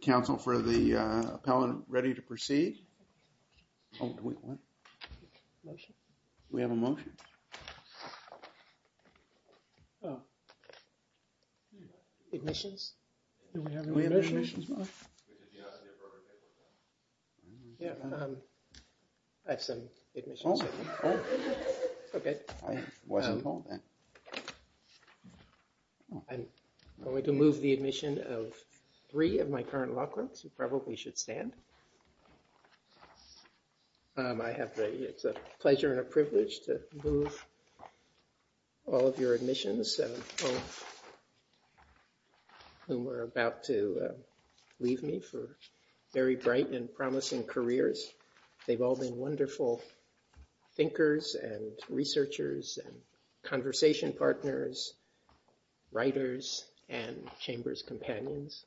Council for the appellant ready to proceed? Do we have a motion? Ignitions? Do we have an ignition? I said ignitions. Okay. I'm going to move the admission of three of my current law firms. You probably should stand. It's a pleasure and a privilege to move all of your admissions. We're about to leave me for very bright and promising careers. They've all been wonderful thinkers and researchers and conversation partners, writers, and chamber's companions.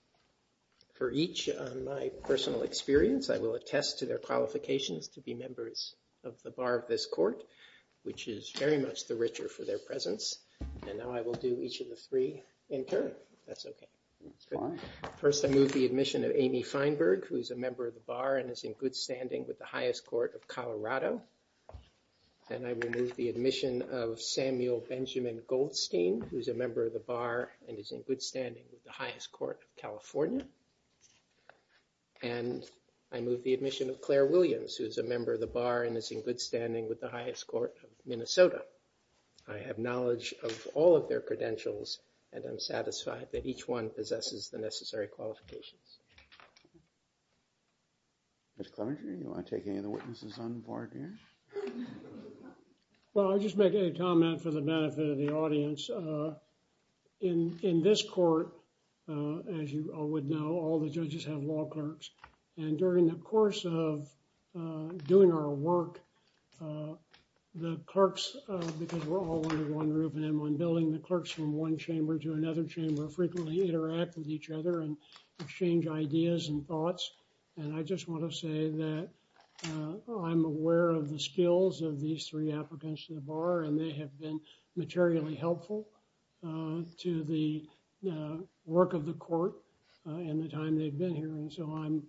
For each of my personal experience, I will attest to their qualifications to be members of the bar of this court, which is very much the richer for their presence. And now I will do each of the three in turn. First, I move the admission of Amy Feinberg, who is a member of the bar and is in good standing with the highest court of Colorado. And I remove the admission of Samuel Benjamin Goldstein, who is a member of the bar and is in good standing with the highest court, California. And I move the admission of Claire Williams, who is a member of the bar and is in good standing with the highest court of Minnesota. I have knowledge of all of their credentials, and I'm satisfied that each one possesses the necessary qualifications. Mr. Clement, do you want to take any of the witnesses on the bar again? Well, I'll just make a comment for the benefit of the audience. In this court, as you all would know, all the judges have law clerks. And during the course of doing our work, the clerks, because we're all under one roof and in one building, the clerks from one chamber to another chamber frequently interact with each other and exchange ideas and thoughts. And I just want to say that I'm aware of the skills of these three applicants to the bar, and they have been materially helpful to the work of the court in the time they've been here. And so I'm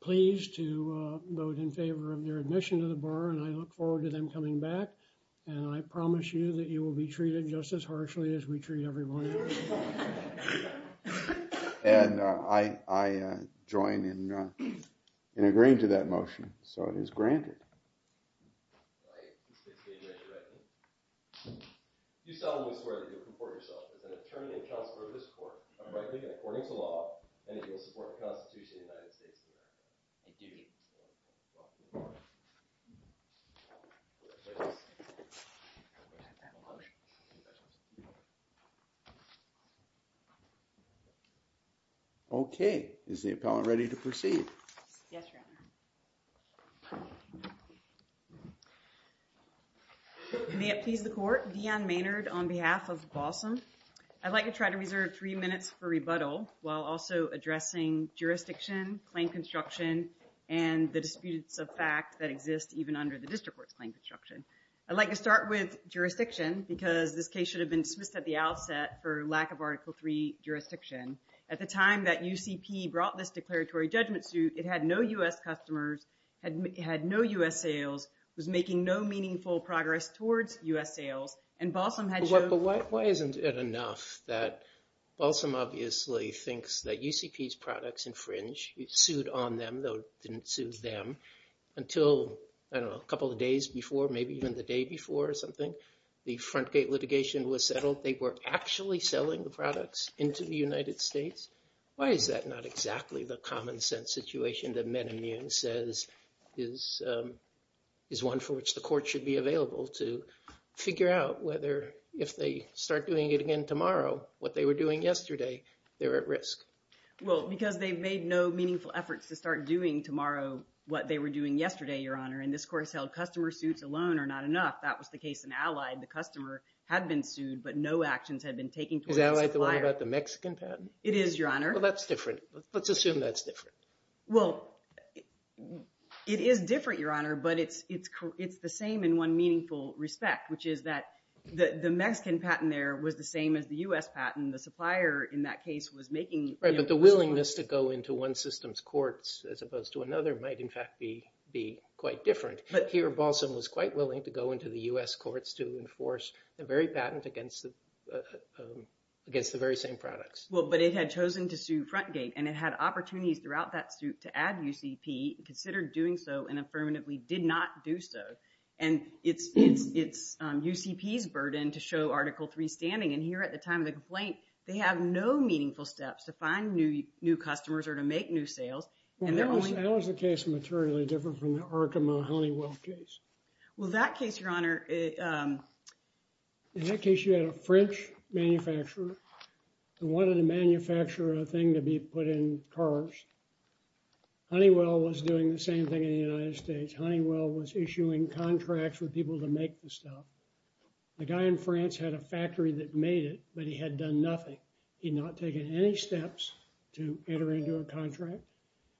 pleased to vote in favor of your admission to the bar, and I look forward to them coming back. And I promise you that you will be treated just as harshly as we treat everybody else. And I join in agreeing to that motion, so it is granted. Okay, is the appellant ready to proceed? Yes, Your Honor. May it please the court, Deanne Maynard on behalf of Balsam. I'd like to try to reserve three minutes for rebuttal while also addressing jurisdiction, claim construction, and the disputes of fact that exist even under the district court claim construction. I'd like to start with jurisdiction, because this case should have been dismissed at the outset for lack of Article III jurisdiction. At the time that UCP brought this declaratory judgment suit, it had no U.S. customers, had no U.S. sales, was making no meaningful progress towards U.S. sales, and Balsam had shown— even the day before or something—the front gate litigation was settled. They were actually selling the products into the United States. Why is that not exactly the common-sense situation that Menahieu says is one for which the court should be available to figure out whether, if they start doing it again tomorrow, what they were doing yesterday, they're at risk? Well, because they've made no meaningful efforts to start doing tomorrow what they were doing yesterday, Your Honor. And this court has held customer suits alone are not enough. That was the case in Allied. The customer had been sued, but no actions had been taken towards the supplier. Is Allied the one about the Mexican patent? It is, Your Honor. Well, that's different. Let's assume that's different. Well, it is different, Your Honor, but it's the same in one meaningful respect, which is that the Mexican patent there was the same as the U.S. patent. The supplier in that case was making— Right, but the willingness to go into one system's courts as opposed to another might, in fact, be quite different. But here, Balsam was quite willing to go into the U.S. courts to enforce the very patent against the very same products. Well, but it had chosen to sue Frontgate, and it had opportunities throughout that suit to add UCP, considered doing so, and affirmatively did not do so. And it's UCP's burden to show Article III standing. And here at the time of the complaint, they have no meaningful steps to find new customers or to make new sales, and they're only— Well, how is the case materially different from the Arkham or the Honeywell case? Well, that case, Your Honor— In that case, you had a French manufacturer who wanted to manufacture a thing to be put in cars. Honeywell was doing the same thing in the United States. Honeywell was issuing contracts with people to make the stuff. The guy in France had a factory that made it, but he had done nothing. He had not taken any steps to enter into a contract.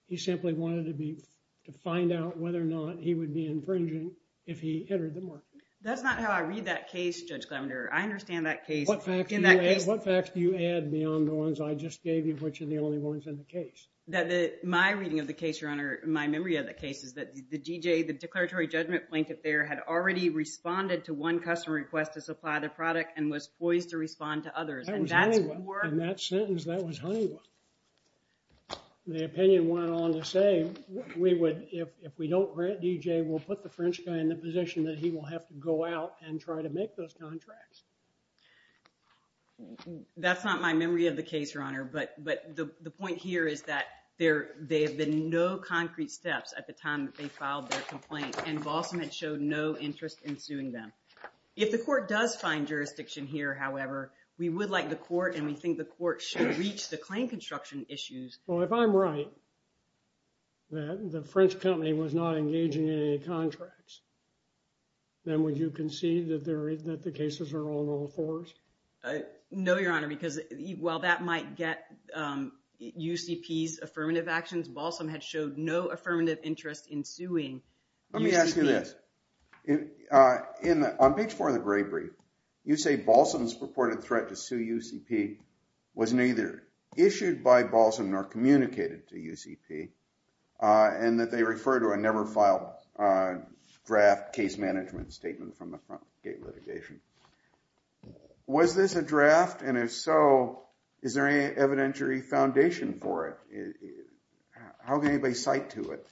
He simply wanted to find out whether or not he would be infringing if he entered the market. That's not how I read that case, Judge Glender. I understand that case— What facts do you add beyond the ones I just gave you, which are the only ones in the case? My reading of the case, Your Honor—my memory of the case is that the DJ, the declaratory judgment blanket there, had already responded to one customer request to supply the product and was poised to respond to others. That was Honeywell. In that sentence, that was Honeywell. The opinion went on to say, if we don't grant DJ, we'll put the French guy in the position that he will have to go out and try to make those contracts. That's not my memory of the case, Your Honor, but the point here is that there have been no concrete steps at the time that they filed their complaint, and Baltimore showed no interest in suing them. If the court does find jurisdiction here, however, we would like the court and we think the court should reach the claim construction issues. Well, if I'm right, that the French company was not engaging in any contracts, then would you concede that the cases are on all fours? No, Your Honor, because while that might get UCP's affirmative actions, Baltimore had showed no affirmative interest in suing UCP. Let me ask you this. On page four of the gray brief, you say, Balsam's purported threat to sue UCP was neither issued by Balsam nor communicated to UCP, and that they refer to a never filed draft case management statement from the front gate litigation. Was this a draft, and if so, is there any evidentiary foundation for it? How did anybody cite to it?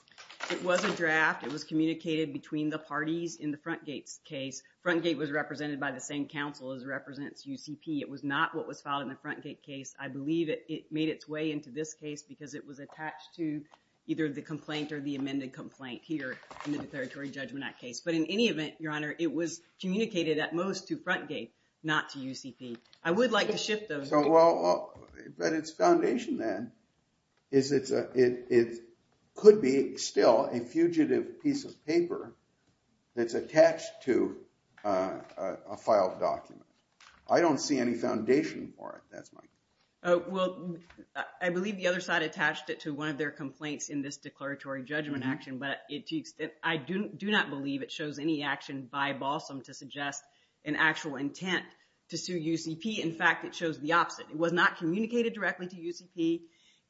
It was a draft. It was communicated between the parties in the front gate case. Front gate was represented by the same counsel as represents UCP. It was not what was filed in the front gate case. I believe it made its way into this case because it was attached to either the complaint or the amended complaint here in the Territory Judgment Act case. But in any event, Your Honor, it was communicated at most to front gate, not to UCP. I would like to shift those. But its foundation, then, is that it could be still a fugitive piece of paper that's attached to a filed document. I don't see any foundation for it that much. Well, I believe the other side attached it to one of their complaints in this declaratory judgment action, but I do not believe it shows any action by Balsam to suggest an actual intent to sue UCP. In fact, it shows the opposite. It was not communicated directly to UCP,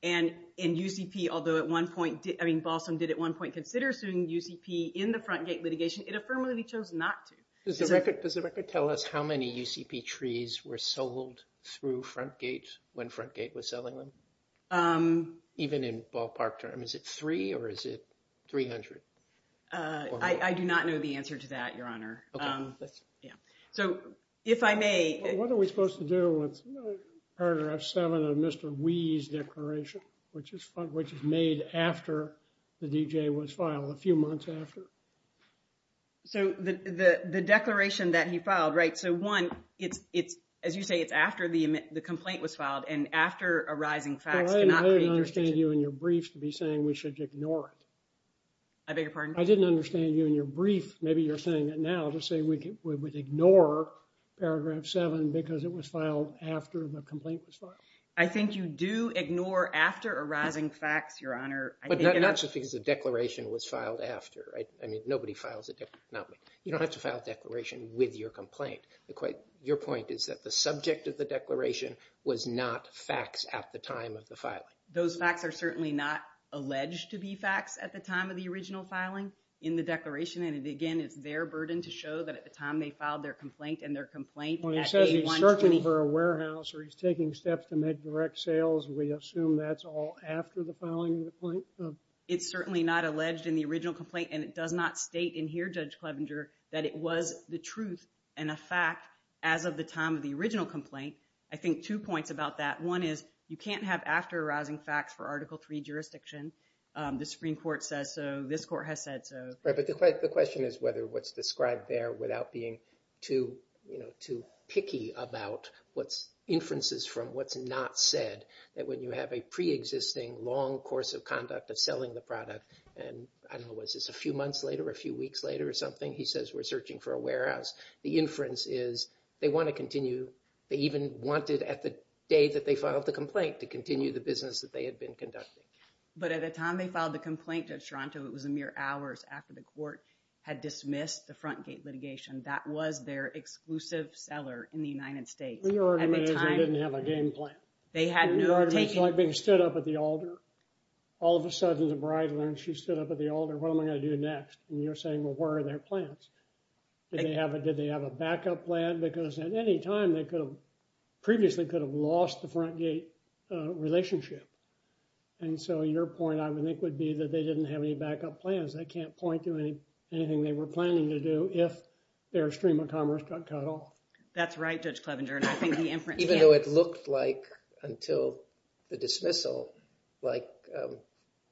and UCP, although at one point, I mean, Balsam did at one point consider suing UCP in the front gate litigation. It affirmatively chose not to. Does the record tell us how many UCP trees were sold through front gates when front gate was selling them? Even in ballpark terms, is it three or is it 300? I do not know the answer to that, Your Honor. Okay. Yeah. So, if I may. What are we supposed to do with Paragraph 7 of Mr. Wee's declaration, which is made after the D.J. was filed, a few months after? So, the declaration that he filed, right? So, one, as you say, it's after the complaint was filed and after arising facts. I didn't understand you in your briefs to be saying we should ignore it. I beg your pardon? I didn't understand you in your briefs. Maybe you're saying it now to say we would ignore Paragraph 7 because it was filed after the complaint was filed. I think you do ignore after arising facts, Your Honor. But not necessarily because the declaration was filed after. I mean, nobody files a declaration. You don't have to file a declaration with your complaint. Your point is that the subject of the declaration was not facts at the time of the filing. Those facts are certainly not alleged to be facts at the time of the original filing in the declaration. And, again, it's their burden to show that at the time they filed their complaint and their complaint. Well, he said he's working for a warehouse or he's taking steps to make direct sales. We assume that's all after the filing of the complaint. It's certainly not alleged in the original complaint. And it does not state in here, Judge Clevenger, that it was the truth and a fact as of the time of the original complaint. I think two points about that. One is you can't have after arising facts for Article III jurisdictions. The Supreme Court said so. This court has said so. Right, but the question is whether what's described there without being too picky about what's inferences from what's not said, that when you have a preexisting long course of conduct of selling the product and, I don't know, was this a few months later or a few weeks later or something? He says we're searching for a warehouse. The inference is they want to continue. They even wanted at the day that they filed the complaint to continue the business that they had been conducting. But at the time they filed the complaint, Judge Toronto, it was a mere hours after the court had dismissed the front gate litigation. That was their exclusive seller in the United States. They didn't have a game plan. They stood up at the altar. All of a sudden the bride went and she stood up at the altar. What am I going to do next? And you're saying, well, where are their plans? Did they have a backup plan? Because at any time they previously could have lost the front gate relationship. And so your point, I think, would be that they didn't have any backup plans. They can't point to anything they were planning to do if their stream of commerce got cut off. That's right, Judge Plevenger. Even though it looked like until the dismissal, like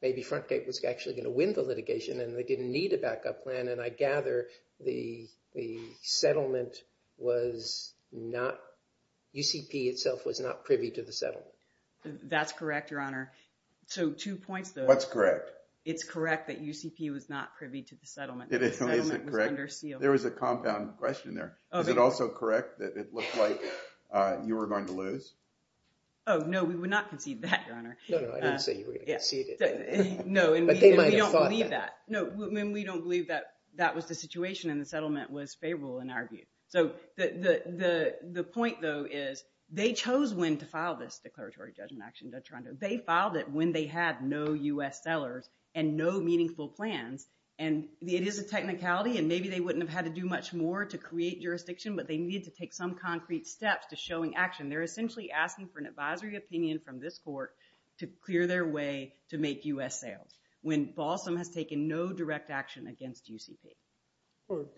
maybe front gate was actually going to win the litigation and they didn't need a backup plan. And I gather the settlement was not – UCP itself was not privy to the settlement. That's correct, Your Honor. So two points, though. What's correct? It's correct that UCP was not privy to the settlement. Is it correct? There was a compound question there. Is it also correct that it looked like you were going to lose? Oh, no, we would not concede that, Your Honor. No, no, I didn't say you were going to concede it. No, we don't believe that. No, we don't believe that that was the situation and the settlement was favorable in our view. So the point, though, is they chose when to file this declaratory judgment action. They filed it when they had no U.S. sellers and no meaningful plans. And it is a technicality, and maybe they wouldn't have had to do much more to create jurisdiction, but they needed to take some concrete steps to showing action. They're essentially asking for an advisory opinion from this court to clear their way to make U.S. sales. When Balsam has taken no direct action against UCP.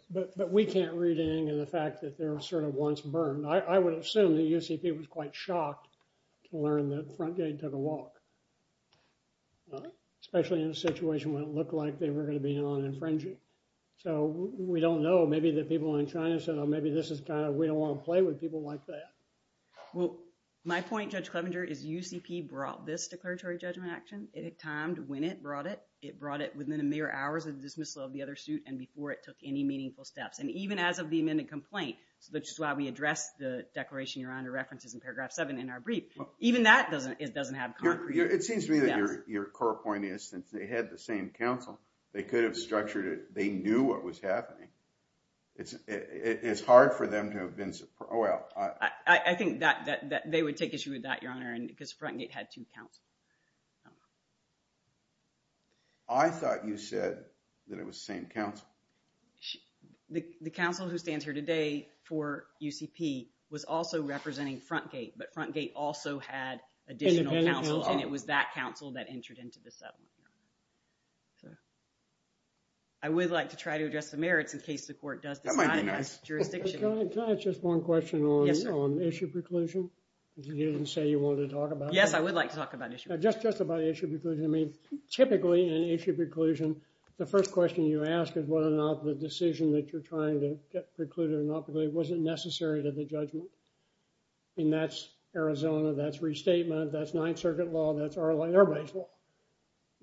But we can't read into the fact that there was sort of once burned. I would assume that UCP was quite shocked to learn that Frontgate took a walk, especially in a situation where it looked like they were going to be on infringing. So we don't know. Maybe the people in China said, oh, maybe this is kind of we don't want to play with people like that. Well, my point, Judge Clevenger, is UCP brought this declaratory judgment action. It timed when it brought it. It brought it within a mere hour of the dismissal of the other suit and before it took any meaningful steps. And even as of the amended complaint, which is why we addressed the declaration, Your Honor, references in paragraph 7 in our brief, even that doesn't have concrete. It seems to me that your core point is since they had the same counsel, they could have structured it. They knew what was happening. It's hard for them to have been – oh, well. I think that they would take issue with that, Your Honor, because Frontgate had two counsels. I thought you said that it was the same counsel. The counsel who stands here today for UCP was also representing Frontgate, but Frontgate also had additional counsel, and it was that counsel that entered into the settlement. I would like to try to address the merits in case the court does deny that jurisdiction. Can I ask just one question on issue preclusion? You didn't say you wanted to talk about it. Yes, I would like to talk about issue preclusion. Just about issue preclusion. I mean, typically in issue preclusion, the first question you ask is what an operative decision that you're trying to preclude or not preclude wasn't necessary to the judgment. And that's Arizona. That's restatement. That's Ninth Circuit law. That's our law. Everybody's law.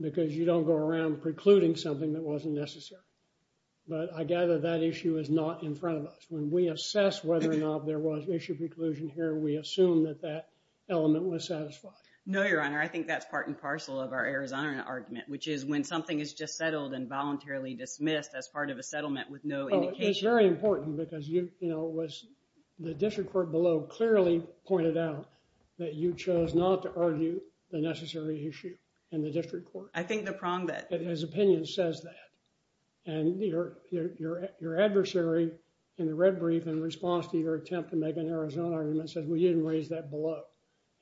Because you don't go around precluding something that wasn't necessary. But I gather that issue is not in front of us. When we assess whether or not there was issue preclusion here, we assume that that element was satisfied. No, Your Honor. I think that's part and parcel of our Arizona argument, which is when something is just settled and voluntarily dismissed as part of a settlement with no indication. It's very important, because the district court below clearly pointed out that you chose not to argue the necessary issue in the district court. I think the prong that— His opinion says that. And your adversary in the red brief, in response to your attempt to make an Arizona argument, said, well, you didn't raise that below.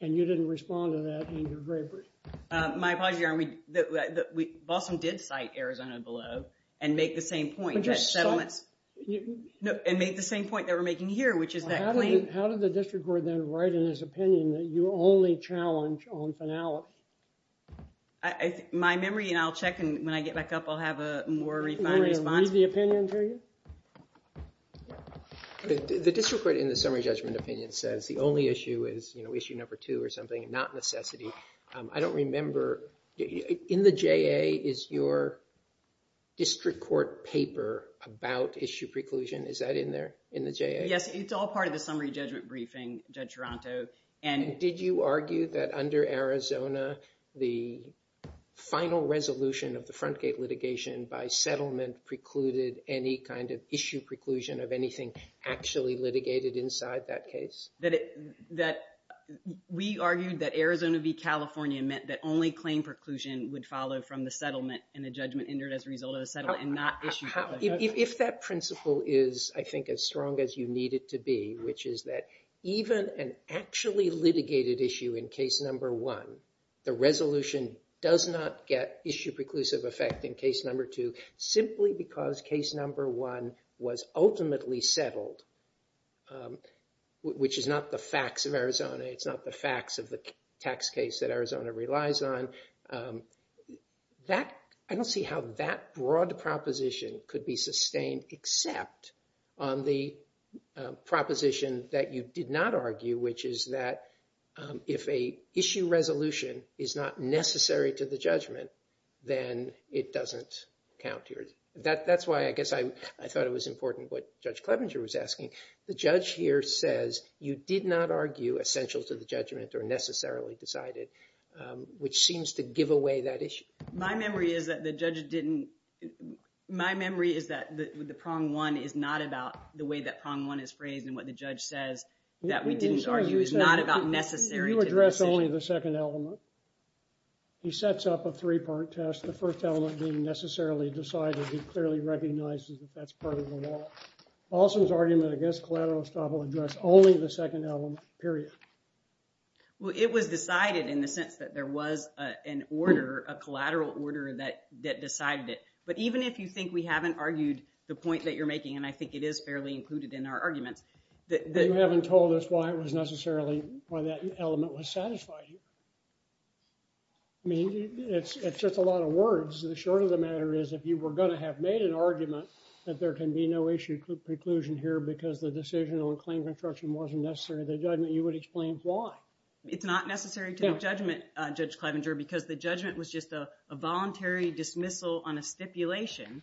And you didn't respond to that in your gray brief. My apologies, Your Honor. Boston did cite Arizona below and make the same point. And make the same point that we're making here, which is that claim— How did the district court then write in its opinion that you only challenged on finality? My memory, and I'll check, and when I get back up, I'll have a more refined response. Can I read the opinion for you? The district court in the summary judgment opinion says the only issue is issue number two or something, not necessity. I don't remember— In the JA is your district court paper about issue preclusion. Is that in there, in the JA? Yes, it's all part of the summary judgment briefing, Judge Toronto. And did you argue that under Arizona, the final resolution of the front gate litigation by settlement precluded any kind of issue preclusion of anything actually litigated inside that case? That we argued that Arizona v. California meant that only claim preclusion would follow from the settlement and the judgment entered as a result of the settlement and not issue preclusion. If that principle is, I think, as strong as you need it to be, which is that even an actually litigated issue in case number one, the resolution does not get issue preclusive effect in case number two simply because case number one was ultimately settled, which is not the facts of Arizona. It's not the facts of the tax case that Arizona relies on. I don't see how that broad proposition could be sustained except on the proposition that you did not argue, which is that if a issue resolution is not necessary to the judgment, then it doesn't count here. That's why I guess I thought it was important what Judge Clevenger was asking. The judge here says you did not argue essentials of the judgment are necessarily decided, which seems to give away that issue. My memory is that the judge didn't – my memory is that the prong one is not about the way that prong one is phrased and what the judge says that we didn't argue. It's not about necessary to the judgment. You address only the second element. He sets up a three-part test. The first element being necessarily decided, he clearly recognizes that that's part of the law. Paulson's argument, I guess, collateral stuff will address only the second element, period. Well, it was decided in the sense that there was an order, a collateral order that decided it. But even if you think we haven't argued the point that you're making, and I think it is fairly included in our argument, that – You haven't told us why it was necessarily – why that element was satisfying. I mean, it's just a lot of words. The short of the matter is if you were going to have made an argument that there can be no issue preclusion here because the decision on a claim construction wasn't necessary to the judgment, you would explain why. It's not necessary to the judgment, Judge Clevenger, because the judgment was just a voluntary dismissal on a stipulation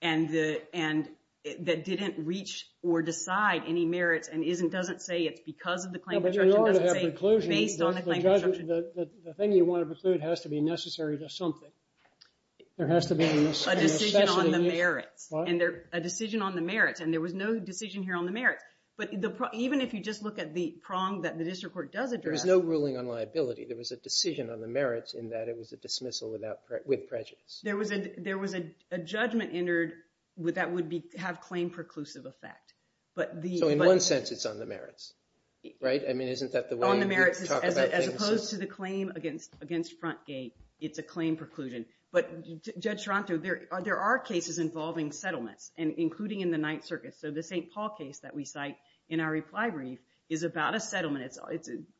and that didn't reach or decide any merit and doesn't say it's because of the claim construction – Well, but you wanted to have preclusion. The thing you want to preclude has to be necessary to something. There has to be a necessity. A decision on the merit. A decision on the merit, and there was no decision here on the merit. But even if you just look at the prong that the district court does address – There was no ruling on liability. There was a decision on the merits in that it was a dismissal with prejudice. There was a judgment entered that would have claim preclusive effect. So in one sense, it's on the merits, right? I mean, isn't that the way you talk about things? As opposed to the claim against Frontgate, it's a claim preclusion. But, Judge Toronto, there are cases involving settlement, including in the Ninth Circuit. So the St. Paul case that we cite in our reply brief is about a settlement.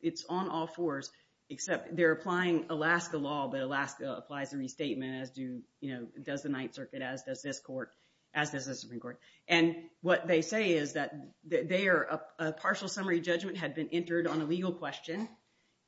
It's on all fours, except they're applying Alaska law, but Alaska applies a restatement as does the Ninth Circuit, as does this court. And what they say is that they are – a partial summary judgment had been entered on a legal question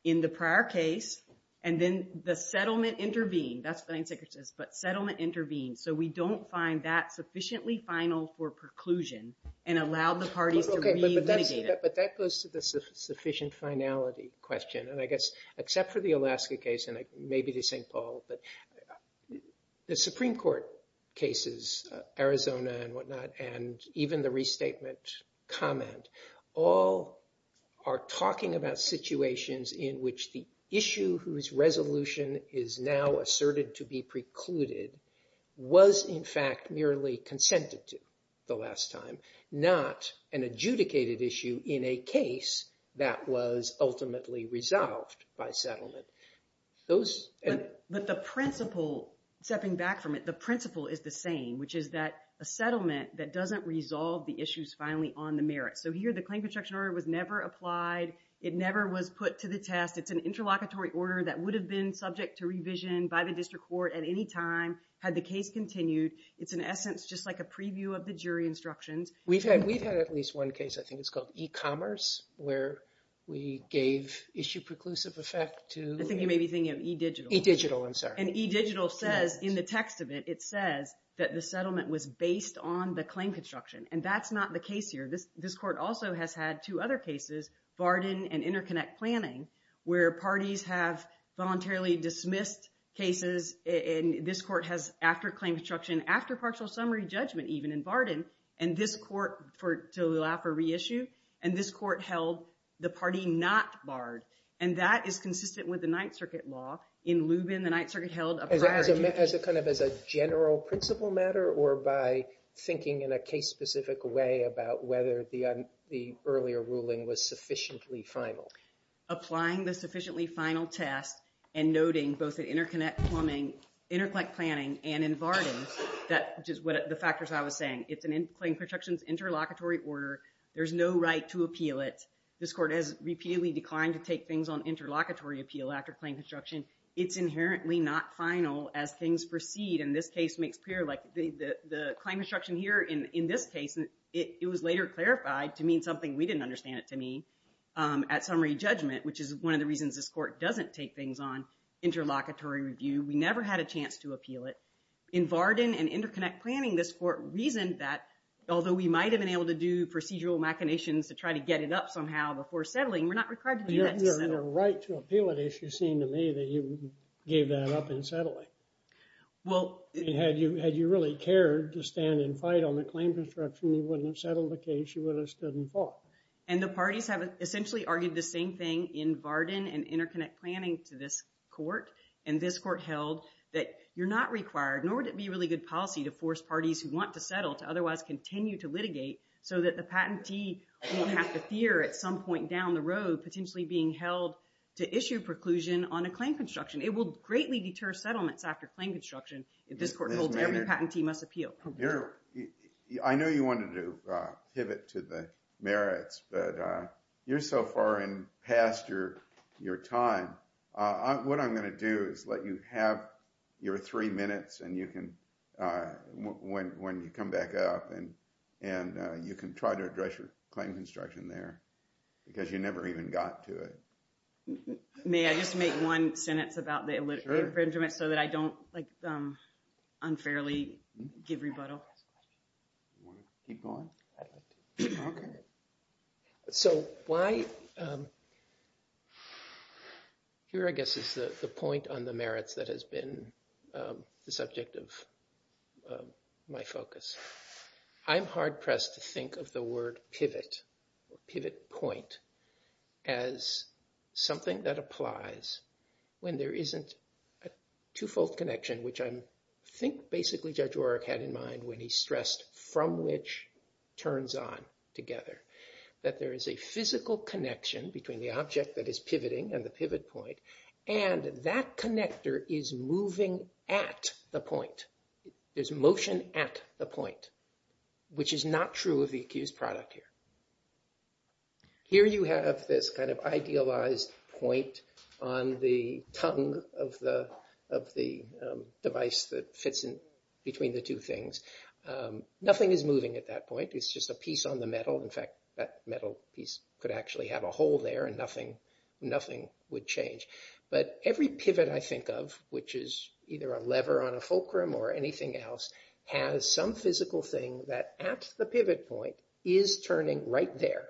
in the prior case, and then the settlement intervened. That's what the Ninth Circuit says, but settlement intervened. So we don't find that sufficiently final for preclusion and allow the parties to reinvigorate it. But that goes to the sufficient finality question. And I guess, except for the Alaska case and maybe the St. Paul, the Supreme Court cases, Arizona and whatnot, and even the restatement comment, all are talking about situations in which the issue whose resolution is now asserted to be precluded was, in fact, merely consented to the last time, not an adjudicated issue in a case that was ultimately resolved by settlement. Those – But the principle, stepping back from it, the principle is the same, which is that a settlement that doesn't resolve the issue is finally on the merit. So here the claim construction order was never applied. It never was put to the test. It's an interlocutory order that would have been subject to revision by the district court at any time had the case continued. It's, in essence, just like a preview of the jury instruction. We've had at least one case, I think it's called E-Commerce, where we gave issue preclusive effect to – I think you may be thinking of E-Digital. E-Digital, I'm sorry. And E-Digital says in the text of it, it says that the settlement was based on the claim construction. And that's not the case here. This court also has had two other cases, Barden and InterConnect Planning, where parties have voluntarily dismissed cases, and this court has, after claim construction, after partial summary judgment, even in Barden, and this court, to allow for reissue, and this court held the party not barred. And that is consistent with the Ninth Circuit law. In Lubin, the Ninth Circuit held a prior – As a kind of general principle matter or by thinking in a case-specific way about whether the earlier ruling was sufficiently final. Applying the sufficiently final test and noting both the InterConnect Planning and in Barden, that's just the factors I was saying. It's a claim construction's interlocutory order. There's no right to appeal it. This court has repeatedly declined to take things on interlocutory appeal after claim construction. It's inherently not final as things proceed, and this case makes clear. Like the claim construction here in this case, it was later clarified to mean something we didn't understand it to mean. At summary judgment, which is one of the reasons this court doesn't take things on interlocutory review, we never had a chance to appeal it. In Barden and InterConnect Planning, this court reasoned that, although we might have been able to do procedural machinations to try to get it up somehow before settling, we're not required to do that. You're right to appeal it, if you seem to me, that you gave that up in settling. Had you really cared to stand and fight on the claim construction, you wouldn't have settled the case. You would have stood and fought. And the parties have essentially argued the same thing in Barden and InterConnect Planning to this court, and this court held that you're not required, nor would it be a really good policy to force parties who want to settle to otherwise continue to litigate so that the patentee wouldn't have to appear at some point down the road, potentially being held to issue preclusion on a claim construction. It will greatly deter settlement after claim construction if this court holds that the patentee must appeal. I know you wanted to pivot to the merits, but you're so far in past your time. What I'm going to do is let you have your three minutes when you come back up, and you can try to address your claim construction there because you never even got to it. May I just make one sentence about the illegitimate infringement so that I don't unfairly give rebuttal? Keep going. So why... Here, I guess, is the point on the merits that has been the subject of my focus. I'm hard-pressed to think of the word pivot, pivot point, as something that applies when there isn't a two-fold connection, which I think basically Judge Oreck had in mind when he stressed from which turns on together, that there is a physical connection between the object that is pivoting and the pivot point, and that connector is moving at the point. There's motion at the point, which is not true of the accused product here. Here you have this kind of idealized point on the tongue of the device that fits in between the two things. Nothing is moving at that point. It's just a piece on the metal. In fact, that metal piece could actually have a hole there, and nothing would change. But every pivot I think of, which is either a lever on a fulcrum or anything else, has some physical thing that, at the pivot point, is turning right there.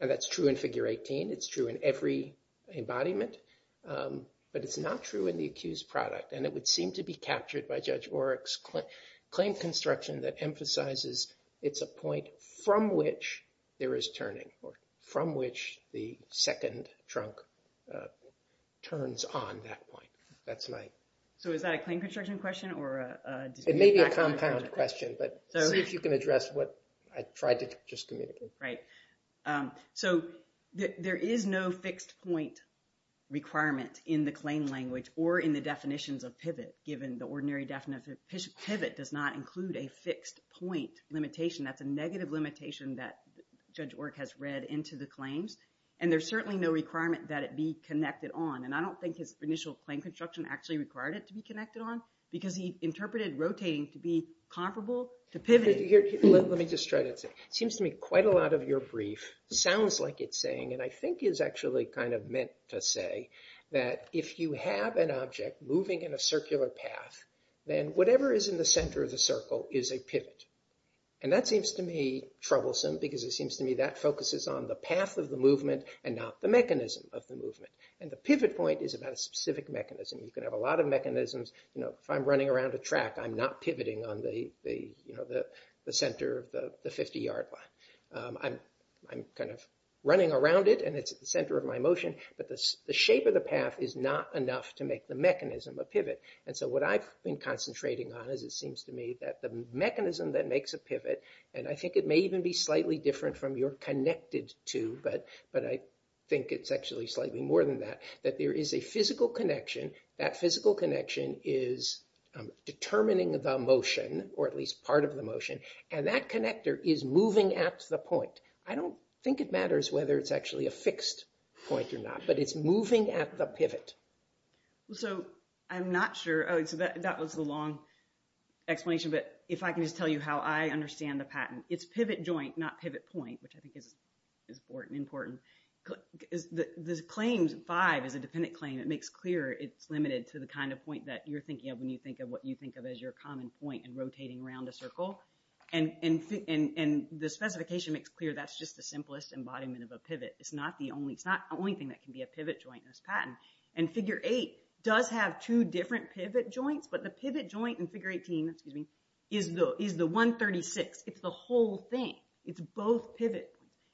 And that's true in Figure 18. It's true in every embodiment. But it's not true in the accused product. And it would seem to be captured by Judge Oreck's claim construction that emphasizes it's a point from which there is turning, or from which the second trunk turns on that point. That's my... So is that a claim construction question or a... It may be a compound question, if you can address what I tried to just communicate. Right. So there is no fixed point requirement in the claim language or in the definitions of pivot, given the ordinary definition. Pivot does not include a fixed point limitation. That's a negative limitation that Judge Oreck has read into the claims. And there's certainly no requirement that it be connected on. And I don't think his initial claim construction actually required it to be connected on, because he interpreted rotating to be comparable to pivoting. Let me just try this. It seems to me quite a lot of your brief sounds like it's saying, and I think is actually kind of meant to say, that if you have an object moving in a circular path, then whatever is in the center of the circle is a pivot. And that seems to me troublesome, because it seems to me that focuses on the path of the movement and not the mechanism of the movement. And the pivot point is about a specific mechanism. You can have a lot of mechanisms. If I'm running around a track, I'm not pivoting on the center of the 50-yard line. I'm kind of running around it, and it's at the center of my motion, but the shape of the path is not enough to make the mechanism a pivot. And so what I've been concentrating on is it seems to me that the mechanism that makes a pivot, and I think it may even be slightly different from your connected to, but I think it's actually slightly more than that, that there is a physical connection. That physical connection is determining the motion, or at least part of the motion, and that connector is moving at the point. I don't think it matters whether it's actually a fixed point or not, but it's moving at the pivot. So I'm not sure. That was a long explanation, but if I can just tell you how I understand the patent. It's pivot joint, not pivot point, which I think is important. The claims five is a dependent claim. It makes clear it's limited to the kind of point that you're thinking of when you think of what you think of as your common point and rotating around a circle. And the specification makes clear that's just the simplest embodiment of a pivot. It's not the only thing that can be a pivot joint in this patent. And figure eight does have two different pivot joints, but the pivot joint in figure 18 is the 136. It's the whole thing. It's both pivots.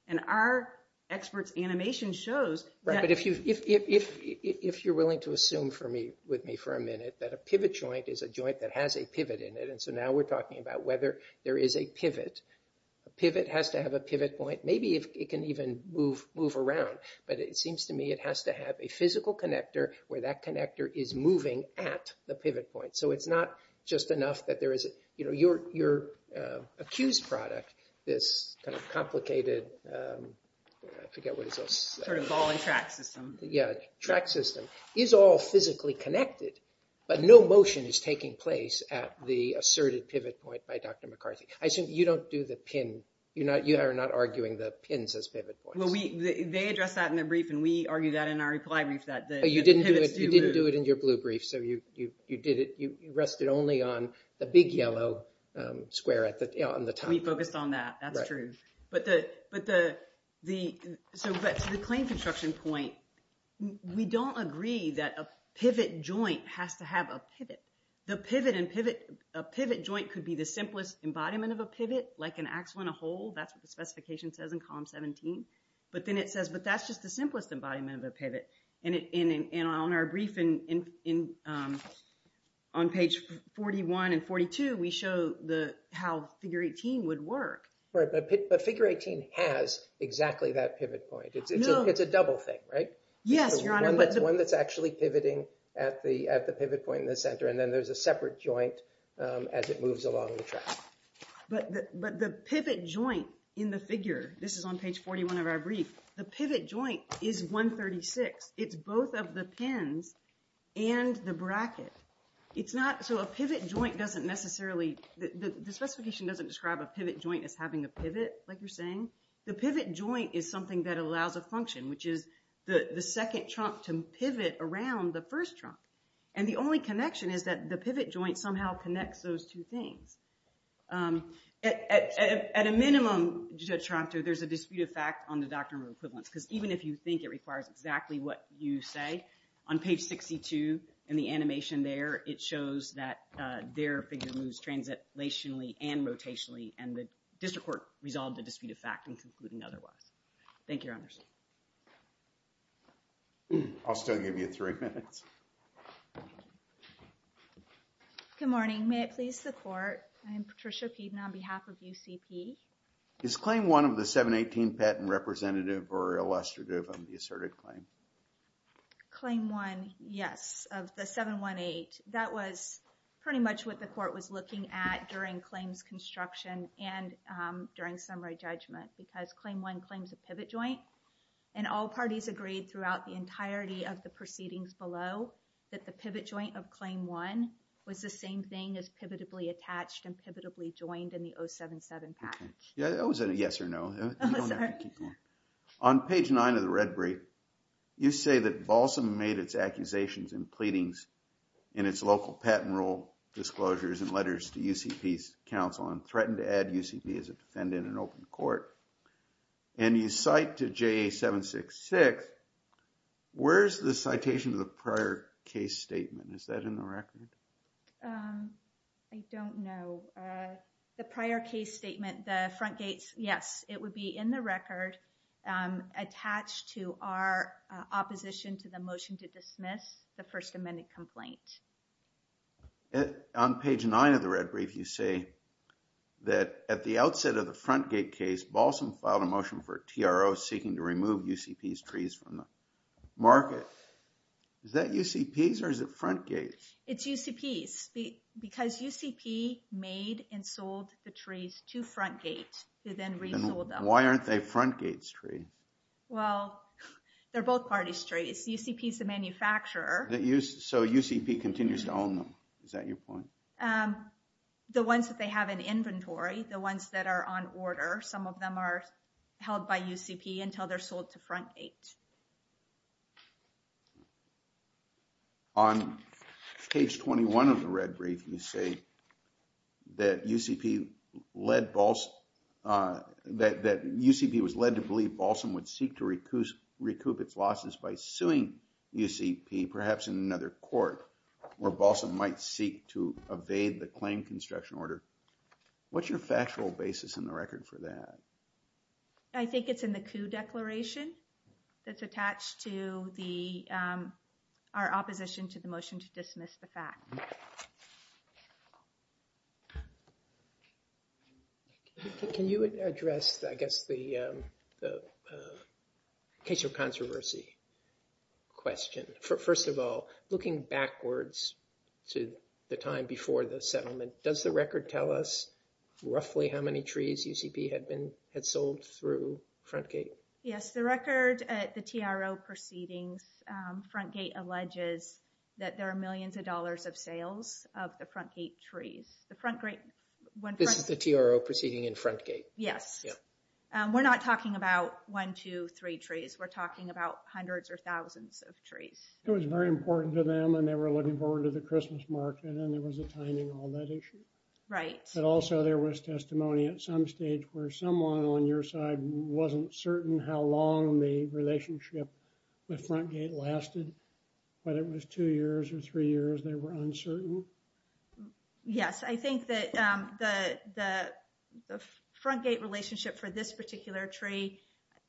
And our expert animation shows that. But if you're willing to assume for me, with me for a minute, that a pivot joint is a joint that has a pivot in it, and so now we're talking about whether there is a pivot. A pivot has to have a pivot point. Maybe it can even move around, but it seems to me it has to have a physical connector where that connector is moving at the pivot point. So it's not just enough that there is, you know, I forget what it is. Sort of ball and track system. Yeah, track system. It's all physically connected, but no motion is taking place at the asserted pivot point by Dr. McCarthy. You don't do the pin. You are not arguing the pins as pivot points. Well, they addressed that in their brief, and we argued that in our reply brief that day. You didn't do it in your blue brief, so you did it. You rested only on the big yellow square on the top. We focused on that. That's true. But the claim construction point, we don't agree that a pivot joint has to have a pivot. The pivot and pivot, a pivot joint could be the simplest embodiment of a pivot, like an axle and a hole. That's what the specification says in column 17, but then it says, but that's just the simplest embodiment of a pivot, and on our brief on page 41 and 42, we show how figure 18 would work. But figure 18 has exactly that pivot point. It's a double thing, right? Yes, Your Honor. One that's actually pivoting at the pivot point in the center, and then there's a separate joint as it moves along the track. But the pivot joint in the figure, this is on page 41 of our brief, the pivot joint is 136. It's both of the pins and the bracket. So a pivot joint doesn't necessarily, the specification doesn't describe a pivot joint as having a pivot, like you're saying. The pivot joint is something that allows a function, which is the second trunk to pivot around the first trunk. And the only connection is that the pivot joint somehow connects those two things. At a minimum, there's a disputed fact on the doctrine of equivalence, because even if you think it requires exactly what you say, on page 62 in the animation there, it shows that their figure moves translationally and rotationally, and the district court resolved the dispute of fact and concluded Thank you, Your Honor. I'll still give you three minutes. Good morning. May it please the court. I'm Patricia Keeton on behalf of UCP. Is claim one of the 718 patent representative or illustrative of the asserted claim? Claim one, yes. The 718, that was pretty much what the court was looking at during claims construction and during summary judgment, because claim one claims a pivot joint and all parties agreed throughout the entirety of the proceedings below that the pivot joint of claim one was the same thing as pivotably attached and pivotably joined in the 077 patent. Yeah, that was a yes or no. On page nine of the red brief, you say that Balsam made its accusations and pleadings in its local patent rule disclosures and letters to UCP's counsel and threatened to add UCP as a defendant in open court. And you cite to JA 766, where's the citation of the prior case statement? Is that in the record? I don't know. The prior case statement, the front gate, yes, it would be in the record attached to our opposition to the motion to dismiss the first amended complaint. On page nine of the red brief, you say that at the outset of the front gate case, Balsam filed a motion for TRO seeking to remove UCP's trees from the market. Is that UCP's or is it front gate? It's UCP's because UCP made and sold the trees to front gate to then Why aren't they front gate's tree? Well, they're both party's trees. UCP's the manufacturer. So UCP continues to own them. Is that your point? The ones that they have in inventory, the ones that are on order. Some of them are held by UCP until they're sold to front gate. On page 21 of the red brief, you say that UCP was led to believe Balsam would seek to recoup its losses by suing UCP, perhaps in another court where Balsam might seek to evade the claim construction order. What's your factual basis in the record for that? I think it's in the coup declaration that's attached to our opposition to the motion to dismiss the fact. Can you address, I guess the case of controversy question? First of all, looking backwards to the time before the settlement, does the record tell us roughly how many trees UCP had been, had sold through front gate? Yes. The record at the TRO proceedings, front gate alleges that there are millions of dollars of sales of the front gate trees. This is the TRO proceeding in front gate. Yes. We're not talking about one, two, three trees. We're talking about hundreds or thousands of trees. It was very important to them and they were looking forward to the Christmas market and there was a timing on that issue. Right. But also there was testimony at some stage where someone on your side wasn't certain how long the relationship with front gate lasted, but it was two years or three years. They were uncertain. Yes. I think that the, the front gate relationship for this particular tree,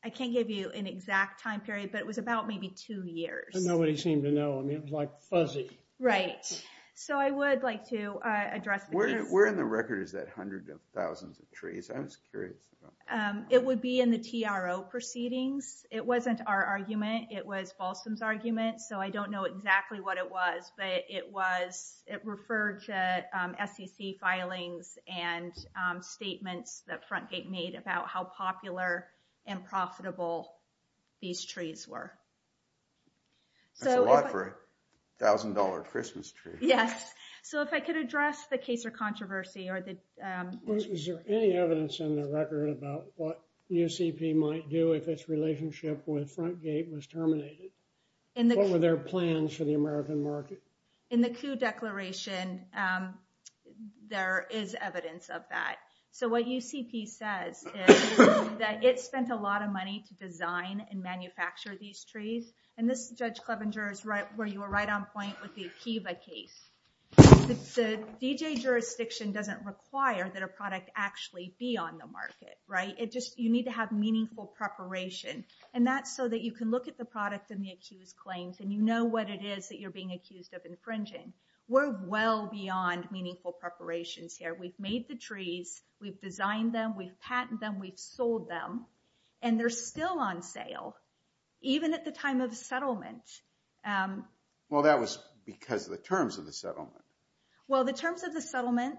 I can't give you an exact time period, but it was about maybe two years. And nobody seemed to know. I mean, it was like fuzzy. Right. So I would like to address. We're in the records that hundreds of thousands of trees. I'm sorry. It would be in the TRO proceedings. It wasn't our argument. It was Paulson's argument. So I don't know exactly what it was, but it was, it referred to. FTC filings and statements that front gate made about how popular. And profitable. These trees were. $1,000 Christmas tree. Yes. So if I could address the case or controversy or the. Is there any evidence on the record about what. You CP might do with this relationship with front gate was terminated. And what were their plans for the American market? In the coup declaration. There is evidence of that. So what you CP said. That gets spent a lot of money to design and manufacture these trees. And this judge Clevenger is right where you were right on point with the case. So, you know, if you look at the D.J. case, the D.J. jurisdiction doesn't require that a product actually be on the market. Right. It just, you need to have meaningful preparation. And that's so that you can look at the products and the accused claims. And you know what it is that you're being accused of infringing. We're well beyond meaningful preparations here. We've made the trees. We've designed them. We've patented them. We sold them. And they're still on sale. Even at the time of the settlement. Well, that was because of the terms of the settlement. Well, the terms of the settlement.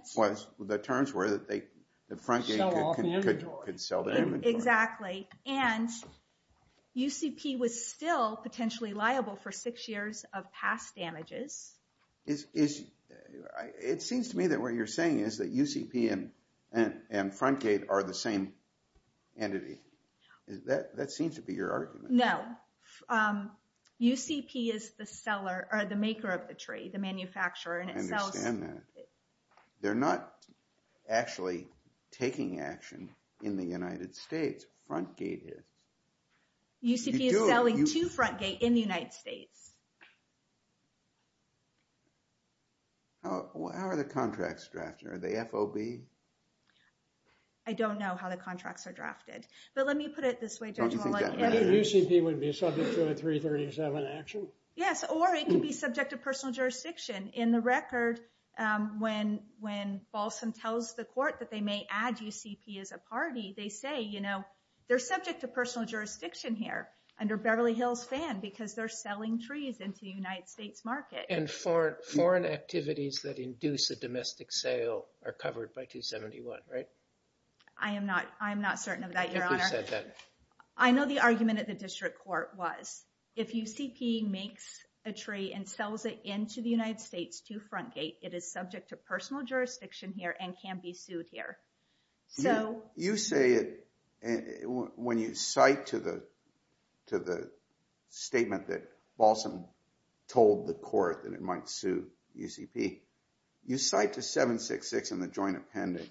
The terms were that the front gate could sell them. Exactly. And you CP was still potentially liable for six years of past damages. It seems to me that what you're saying is that you CP and front gate are the same entity. That seems to be your argument. No. You CP is the seller or the maker of the tree, the manufacturer and it sells. They're not actually taking action in the United States. Front gate is. You CP is selling to front gate in the United States. How are the contracts drafted? Are they FOB? I don't know how the contracts are drafted. But let me put it this way. Yes, or it could be subject to personal jurisdiction in the record. When, when Boston tells the court that they may add you CP as a party, they say, you know, they're subject to personal jurisdiction here under Beverly Hills fan, because they're selling trees into the United States market. And for foreign activities that induce a domestic sale are covered by 271. Right. I am not, I'm not certain of that. I know the argument at the district court was if you CP makes a tree and sells it into the United States to front gate, it is subject to personal jurisdiction here and can be sued here. So you say, and when you cite to the, to the statement that Boston told the court, you CP, you cite to seven, six, six in the joint appendix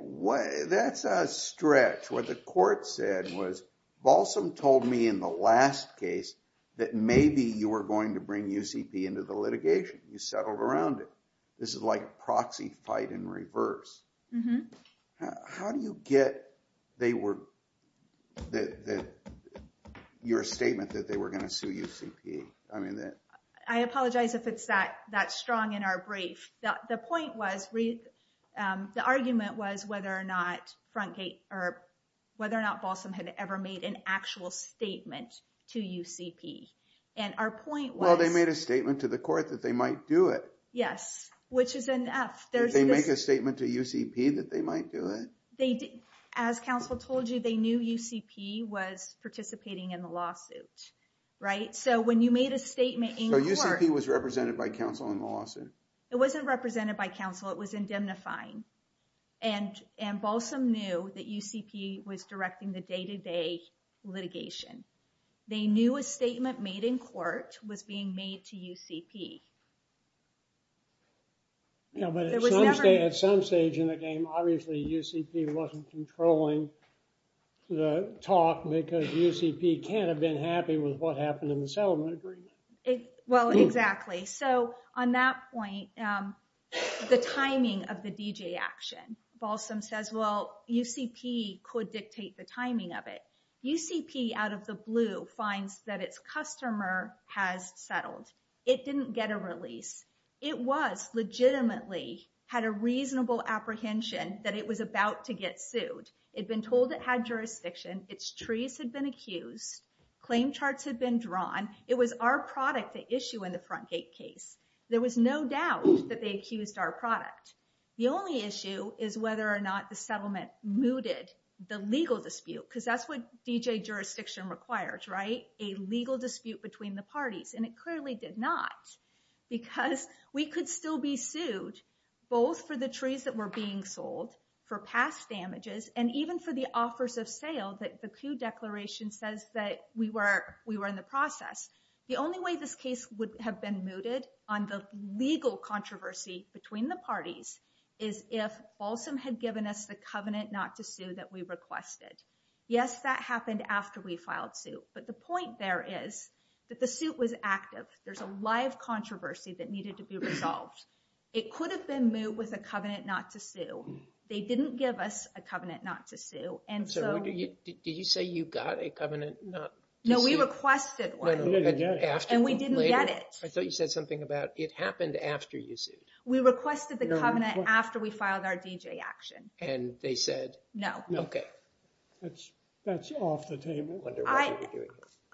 way. That's a stretch. What the court said was Balsam told me in the last case that maybe you were going to bring UCP into the litigation. You settled around it. This is like proxy fight in reverse. How do you get, they were that your statement that they were going to sue you? I mean, I apologize if it's that that strong in our brief. The point was the argument was whether or not front gate or whether or not Boston had ever made an actual statement to you CP. And our point, well, they made a statement to the court that they might do it. Yes. Which is enough. There's a statement to you CP that they might do it. They, as counsel told you, they knew you CP was participating in the lawsuit. Right. So when you made a statement in court, he was represented by counsel in the lawsuit. It wasn't represented by counsel. It was indemnifying and, and Balsam knew that you CP was directing the day to day litigation. They knew a statement made in court was being made to you CP. Yeah, but at some stage in the game, obviously you CP wasn't controlling the talk because you CP can't have been happy with what happened in the cell. Well, exactly. So on that point, the timing of the DJ action Balsam says, well, you CP could dictate the timing of it. You CP out of the blue finds that it's customer has settled. It didn't get a release. It was legitimately had a reasonable apprehension that it was about to get sued. It'd been told it had jurisdiction. It was our product to issue in the front gate case. There was no doubt that they accused our product. The only issue is whether or not the settlement mooted the legal dispute because that's what DJ jurisdiction requires, right? A legal dispute between the parties. And it clearly did not because we could still be sued both for the trees that were being sold for past damages. And even for the offers of sales, the clue declaration says that we were, we were in the process. The only way this case would have been mooted on the legal controversy between the parties is if Balsam had given us the covenant, not to sue that we requested. Yes, that happened after we filed too. But the point there is that the suit was active. There's a live controversy that needed to be resolved. It could have been moved with a covenant, not to sue. They didn't give us a covenant, not to sue. Did you say you got a covenant? No, we requested one and we didn't get it. I thought you said something about it happened after you sued. We requested the covenant after we filed our DJ action. And they said, no. Okay. That's off the table.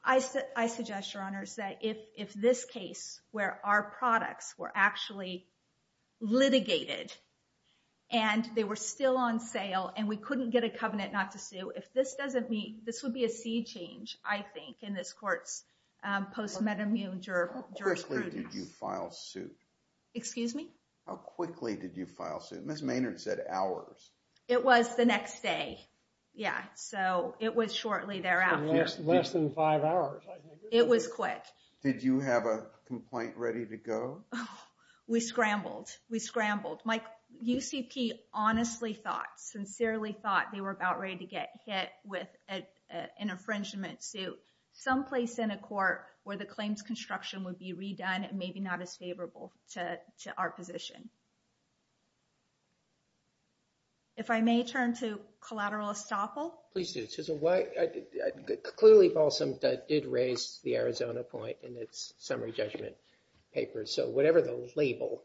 I said, I suggest your honors that if, if this case where our products were actually litigated and they were still on sale and we couldn't get a covenant, not to sue. If this doesn't meet, this would be a C change. I think in this court post metamutual juror. Excuse me. How quickly did you file suit? Miss Maynard said hours. It was the next day. Yeah. So it was shortly thereafter. Less than five hours. It was quick. Did you have a complaint ready to go? We scrambled. We scrambled. My UCP honestly thought, sincerely thought they were about ready to get hit with an infringement suit someplace in a court where the claims construction would be redone and maybe not as favorable to our position. If I may turn to collateral estoppel. Clearly Paulson did raise the Arizona point in its summary judgment paper. So whatever the label,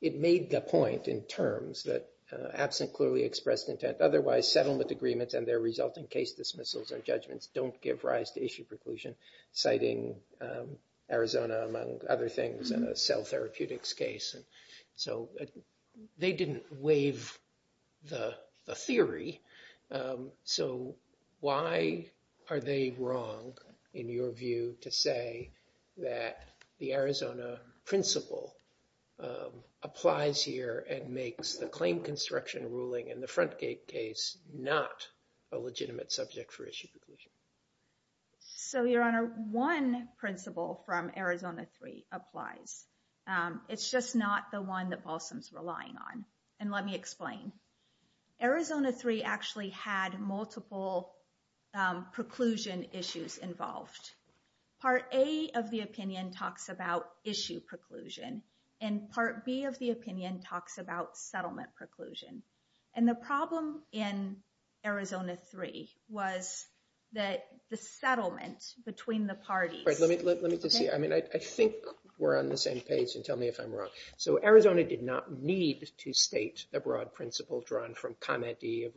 it made the point in terms that absent clearly expressed intent, otherwise settlement agreements and their resulting case dismissals or judgments don't give rise to issue preclusion citing Arizona, among other things, cell therapeutics case. So they didn't waive the theory. So why are they wrong in your view to say that the Arizona principle applies here and makes the claim construction ruling and the front gate case, not a legitimate subject for issue. So your honor, one principle from Arizona three applies. It's just not the one that Paulson's relying on. And let me explain. Arizona three actually had multiple preclusion issues involved. Part a of the opinion talks about issue preclusion and part B of the opinion talks about settlement preclusion. And the problem in Arizona three was that the settlement between the parties, I mean, I think we're on the same page and tell me if I'm wrong. Okay. So Arizona did not need to state the broad principle drawn from comment. The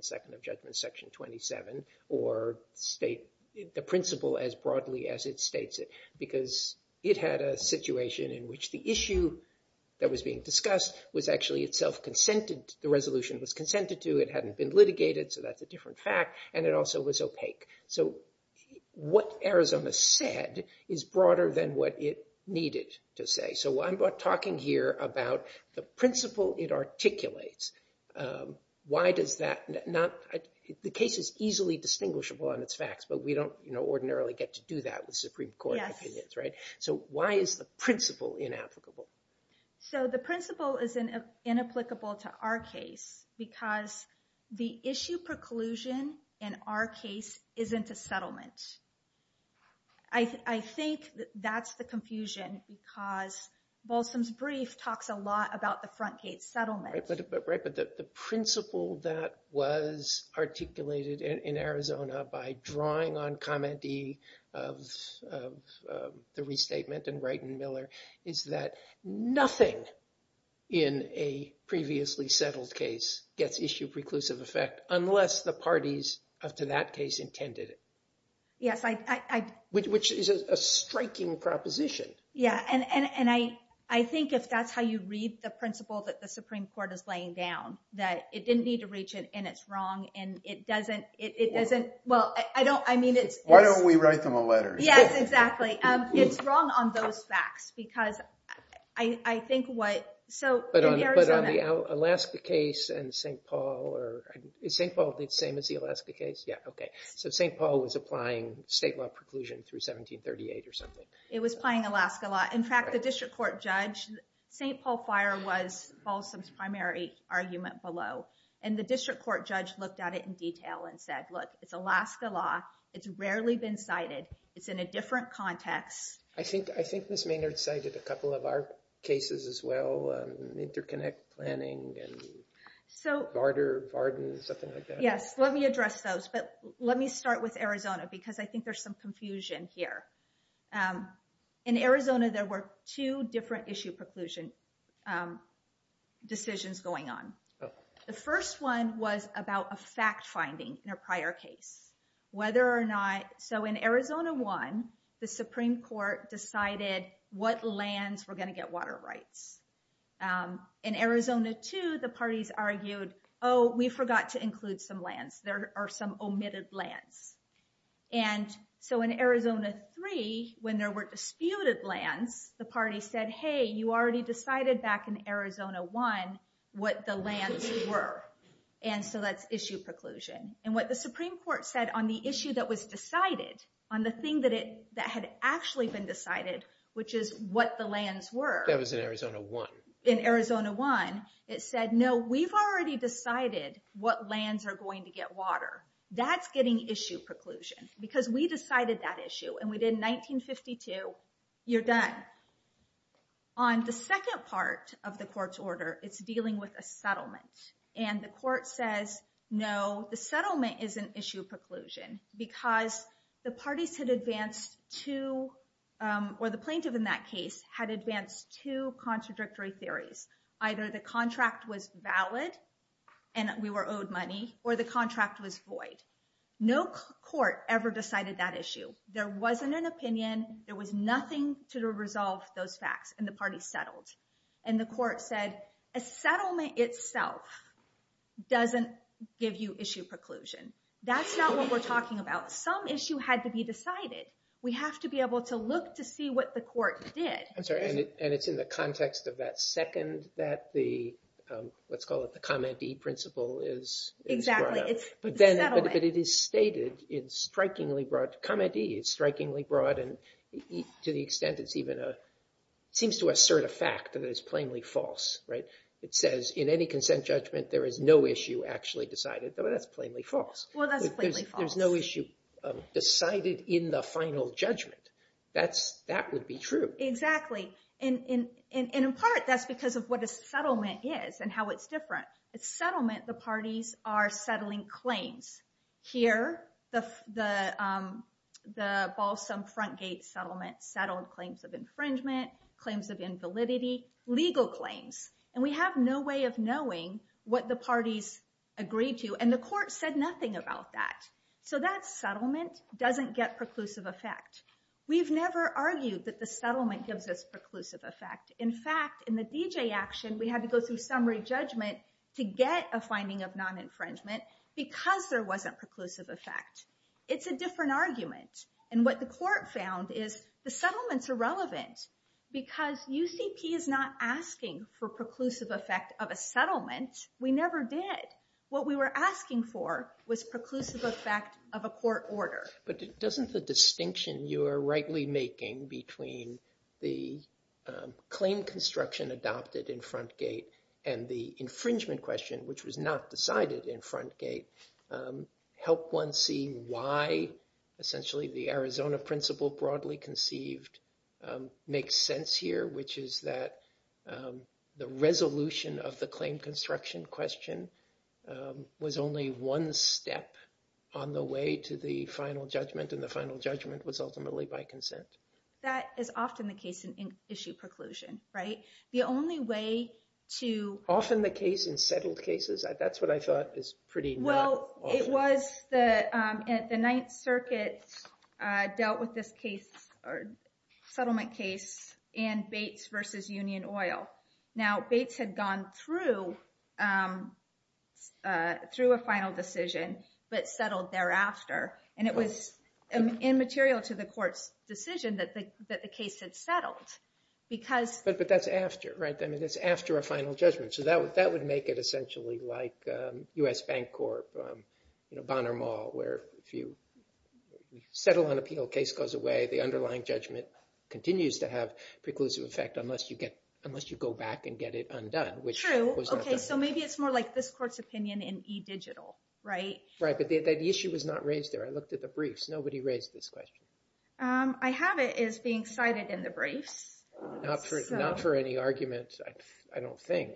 second of judgment section 27 or state the principle as broadly as it states it, because it had a situation in which the issue that was being discussed was actually itself consented. The resolution was consented to, it hadn't been litigated. So that's a different fact. And it also was opaque. So what Arizona said is broader than what it needed to say. So I'm talking here about the principle it articulates. Why does that not, the case is easily distinguishable on its facts, but we don't ordinarily get to do that with Supreme court, right? So why is the principle inapplicable? So the principle is an inapplicable to our case because the issue preclusion and our case isn't a settlement. I think that's the confusion because Balsam's brief talks a lot about the front gate settlement. But the principle that was articulated in Arizona by drawing on comedy of the restatement and Brighton Miller is that nothing in a previously settled case gets issued preclusive effect unless the parties up to that case intended it. Yes. Which is a striking proposition. Yeah. And, and, and I, I think if that's how you read the principle that the Supreme court is laying down that it didn't need to reach it and it's wrong and it doesn't, it doesn't, well, I don't, I mean, why don't we write them a letter? Yes, exactly. It's wrong on those facts because I think what, so Alaska case and St. Paul or St. Paul did same as the Alaska case. Yeah. Okay. So St. Paul was applying state law preclusion through 1738 or something. It was playing Alaska law. In fact, the district court judge, St. Paul fire was called some primary argument below and the district court judge looked at it in detail and said, look, it's Alaska law. It's rarely been cited. It's in a different context. I think, I think this may not excited a couple of our cases as well. Interconnect planning and so harder bargain or something like that. Yes. Let me address those. But let me start with Arizona because I think there's some confusion here. In Arizona, there were two different issue preclusion decisions going on. The first one was about a fact finding in a prior case, whether or not, so in Arizona one, the Supreme court decided what lands were going to get water rights. In Arizona two, the parties argued, Oh, we forgot to include some lands. There are some omitted lands. And so in Arizona three, when there were disputed land, the party said, Hey, you already decided back in Arizona one, what the lands were. And so that's issue preclusion and what the Supreme court said on the issue that was decided on the thing that it, that had actually been decided, which is what the lands were in Arizona one, it said, no, we've already decided what lands are going to get water. That's getting issue preclusion because we decided that issue and we did 1952. You're done. On the second part of the court's order, it's dealing with a settlement and the court says, no, the settlement is an issue preclusion because the parties could advance to, or the plaintiff in that case had advanced to contradictory theories. Either the contract was valid and we were owed money or the contract was void. No court ever decided that issue. There wasn't an opinion. There was nothing to resolve those facts and the party settled. And the court said a settlement itself doesn't give you issue preclusion. That's not what we're talking about. Some issue had to be decided. We have to be able to look to see what the court did. I'm sorry. And it's in the context of that second that the, um, let's call it the comment. The principle is, but then it is stated. It's strikingly broad comedy. It's strikingly broad. And to the extent it's even a, seems to assert a fact that it's plainly false, right? It says in any consent judgment, there is no issue actually decided. That's plainly false. There's no issue decided in the final judgment. That's that would be true. Exactly. And, and, and, and in part that's because of what a settlement is and how it's different. It's settlement. The parties are settling claims here. The, the, um, the Balsam front gate settlement settled claims of infringement, claims of invalidity, legal claims. And we have no way of knowing what the parties agreed to. And the court said nothing about that. So that settlement doesn't get preclusive effect. We've never argued that the settlement gives us preclusive effect. In fact, in the DJ action, we had to go through summary judgment to get a finding of non-infringement because there wasn't preclusive effect. It's a different argument. And what the court found is the settlements are relevant because you see, he is not asking for preclusive effect of a settlement. We never did. What we were asking for was preclusive effect of a court order. But doesn't the distinction you are rightly making between the, um, claim construction adopted in front gate and the infringement question, which was not decided in front gate, um, help one see why essentially the Arizona principle broadly conceived, um, makes sense here, which is that, um, the resolution of the claim construction question, um, was only one step on the way to the final judgment. And the final judgment was ultimately by consent. That is often the case in issue preclusion, right? The only way to. Often the case in several cases, that's what I thought is pretty. Well, it was the, um, at the ninth circuit, uh, dealt with this case or settlement case and Bates versus union oil. Now Bates had gone through, um, uh, through a final decision, but settled thereafter. And it was immaterial to the court decision that the, that the case had settled because. But, but that's after, right? I mean, it's after a final judgment. So that would, that would make it essentially like, um, us bank corp, um, you know, Bonner mall, where if you settle on appeal case goes away, the underlying judgment continues to have preclusive effect unless you get, unless you go back and get it undone. Okay. So maybe it's more like this court's opinion in e-digital, right? Right. But the issue was not raised there. I looked at the briefs. Nobody raised this question. Um, I have it is being cited in the brief. Not for, not for any arguments. I don't think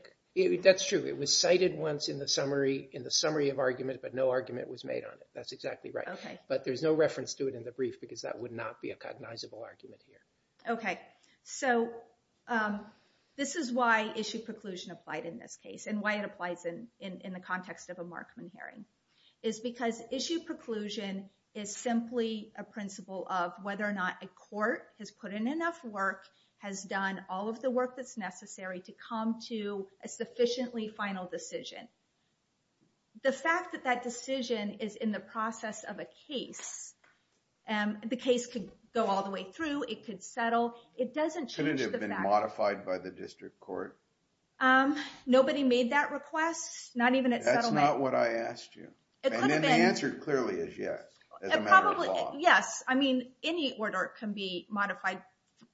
that's true. It was cited once in the summary, in the summary of argument, but no argument was made on it. That's exactly right. But there's no reference to it in the brief because that would not be a cognizable argument here. Okay. So, um, this is why issue preclusion applied in this case and why it applies in, in the context of a Markman hearing is because issue preclusion is simply a principle of whether or not a court has put in enough work, has done all of the work that's necessary to come to a sufficiently final decision. The fact that that decision is in the process of a case, um, the case could go all the way through. It could settle. It doesn't have been modified by the district court. Um, nobody made that request. Not even, that's not what I asked you. And then the answer clearly is yes. Yes. I mean, any order can be modified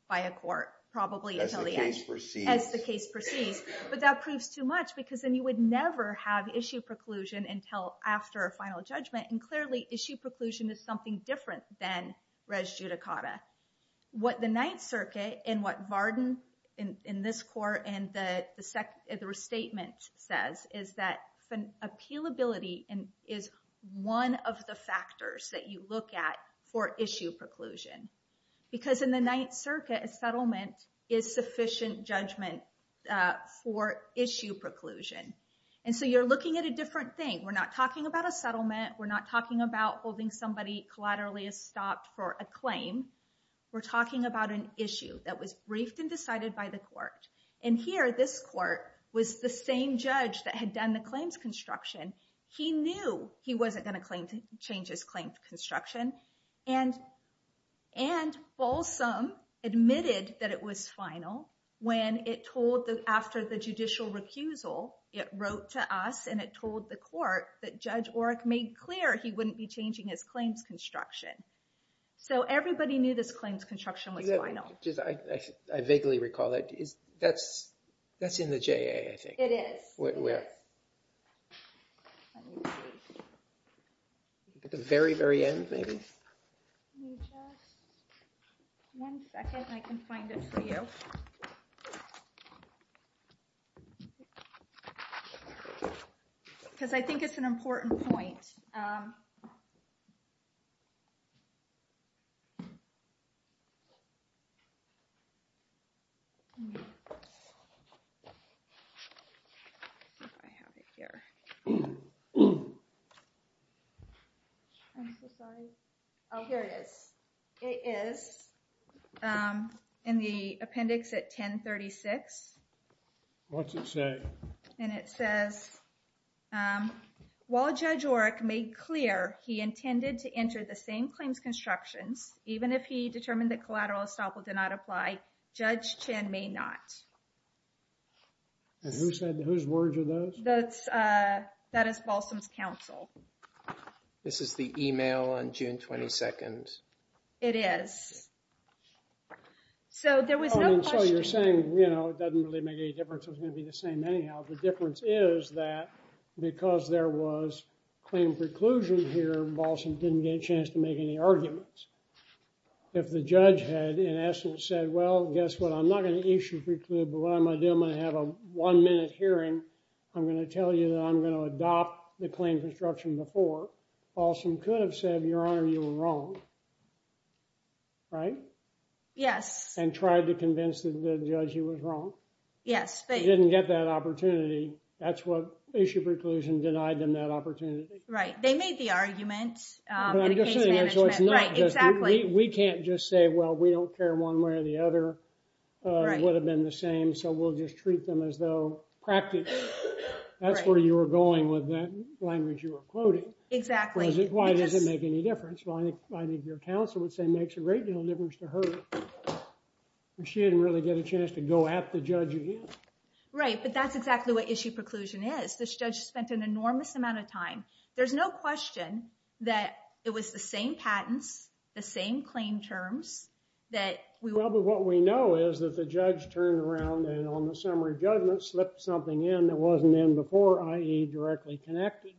by a court, probably. But that proves too much because then you would never have issue preclusion until after a final judgment. And clearly issue preclusion is something different than res judicata. What the ninth circuit and what Varden in this court and the second, the restatement says is that appealability is one of the factors that you look at for issue preclusion because in the ninth circuit, a settlement is sufficient judgment, uh, for issue preclusion. And so you're looking at a different thing. We're not talking about a settlement. We're not talking about holding somebody collaterally stopped for a claim. We're talking about an issue that was briefed and decided by the court. And here, this court was the same judge that had done the claims construction. He knew he wasn't going to claim to change his claims construction and, and Folsom admitted that it was final when it told us after the judicial recusal, it wrote to us. And it told the court that judge Orrick made clear he wouldn't be changing his claims construction. So everybody knew that the claims construction was final. I vaguely recall that. That's, that's in the J.A. I think. It is. At the very, very end, maybe. One second, I can find it for you. Cause I think it's an important point. Oh, here it is. It is, um, in the appendix at 10 36. What's it say? And it says, um, while judge Orrick made clear he intended to enter the same claims construction, even if he determined that collateral estoppel did not apply, judge Chen may not. And who said whose words are those? That's, uh, that is Folsom's counsel. This is the email on June 22nd. It is. So there was no, you're saying, you know, it doesn't really make any difference. It's going to be the same anyhow. The difference is that because there was claim preclusion here, Boston didn't get a chance to make any arguments. If the judge had in essence said, well, guess what? I'm not going to issue precludes, but what I'm going to do, I'm going to have a one minute hearing. I'm going to tell you that I'm going to adopt the claim construction before also could have said, your honor, you were wrong. Right. Yes. And tried to convince the judge he was wrong. Yes. He didn't get that opportunity. That's what issue preclusion denied them that opportunity. Right. They made the argument. We can't just say, well, we don't care one way or the other. It would have been the same. So we'll just treat them as though practice. That's where you were going with the language you were quoting. Exactly. Why does it make any difference? Your counsel would say it makes a great deal of difference to her. She didn't really get a chance to go at the judge again. Right. But that's exactly what issue preclusion is. This judge spent an enormous amount of time. There's no question that it was the same patent, the same claim terms that. What we know is that the judge turned around and on the summary judgment slipped something in that wasn't in before, i.e. directly connected.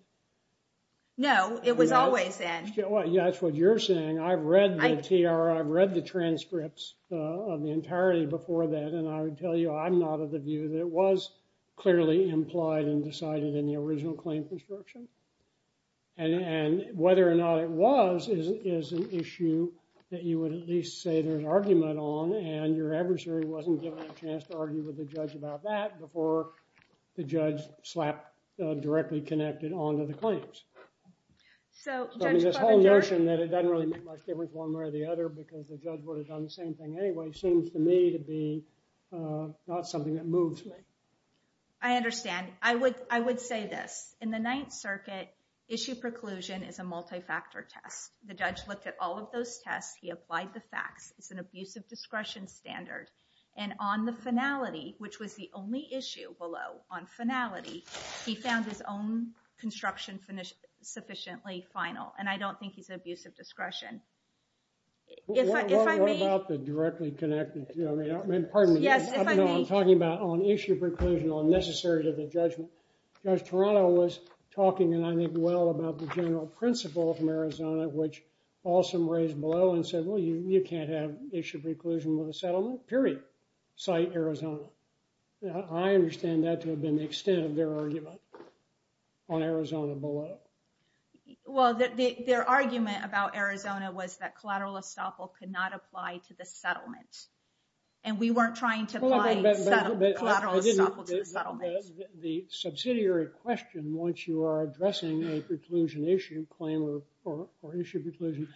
No, it was always in. That's what you're saying. I've read the T.R. I've read the transcripts of the entirety before that. And I would tell you I'm not of the view that it was clearly implied and decided in the original claim construction. And whether or not it was is an issue that you would at least say there's argument on and your adversary wasn't given a chance to argue with the judge about that before the judge slapped directly connected onto the claims. So this whole notion that it doesn't really make much difference one way or the other because the judge would have done the same thing anyway seems to me to be not something that moves me. I understand. I would I would say that in the Ninth Circuit, issue preclusion is a multi-factor test. The judge looked at all of those tests. He applied the facts. It's an abuse of discretion standard. And on the finality, which was the only issue below on finality, he found his own construction sufficiently final. And I don't think he's an abuse of discretion. If I may. What about the directly connected? Pardon me. Yes, if I may. I'm talking about an issue preclusion unnecessary to the judgment. Judge Toronto was talking and I think well about the general principle from Arizona, which also raised below and said, well, you can't have issue preclusion with a settlement, period. Cite Arizona. I understand that to the extent of their argument on Arizona below. Well, their argument about Arizona was that collateral estoppel could not apply to the settlement. And we weren't trying to apply collateral estoppel to the settlement. The subsidiary question once you are addressing a preclusion issue claim or issue preclusion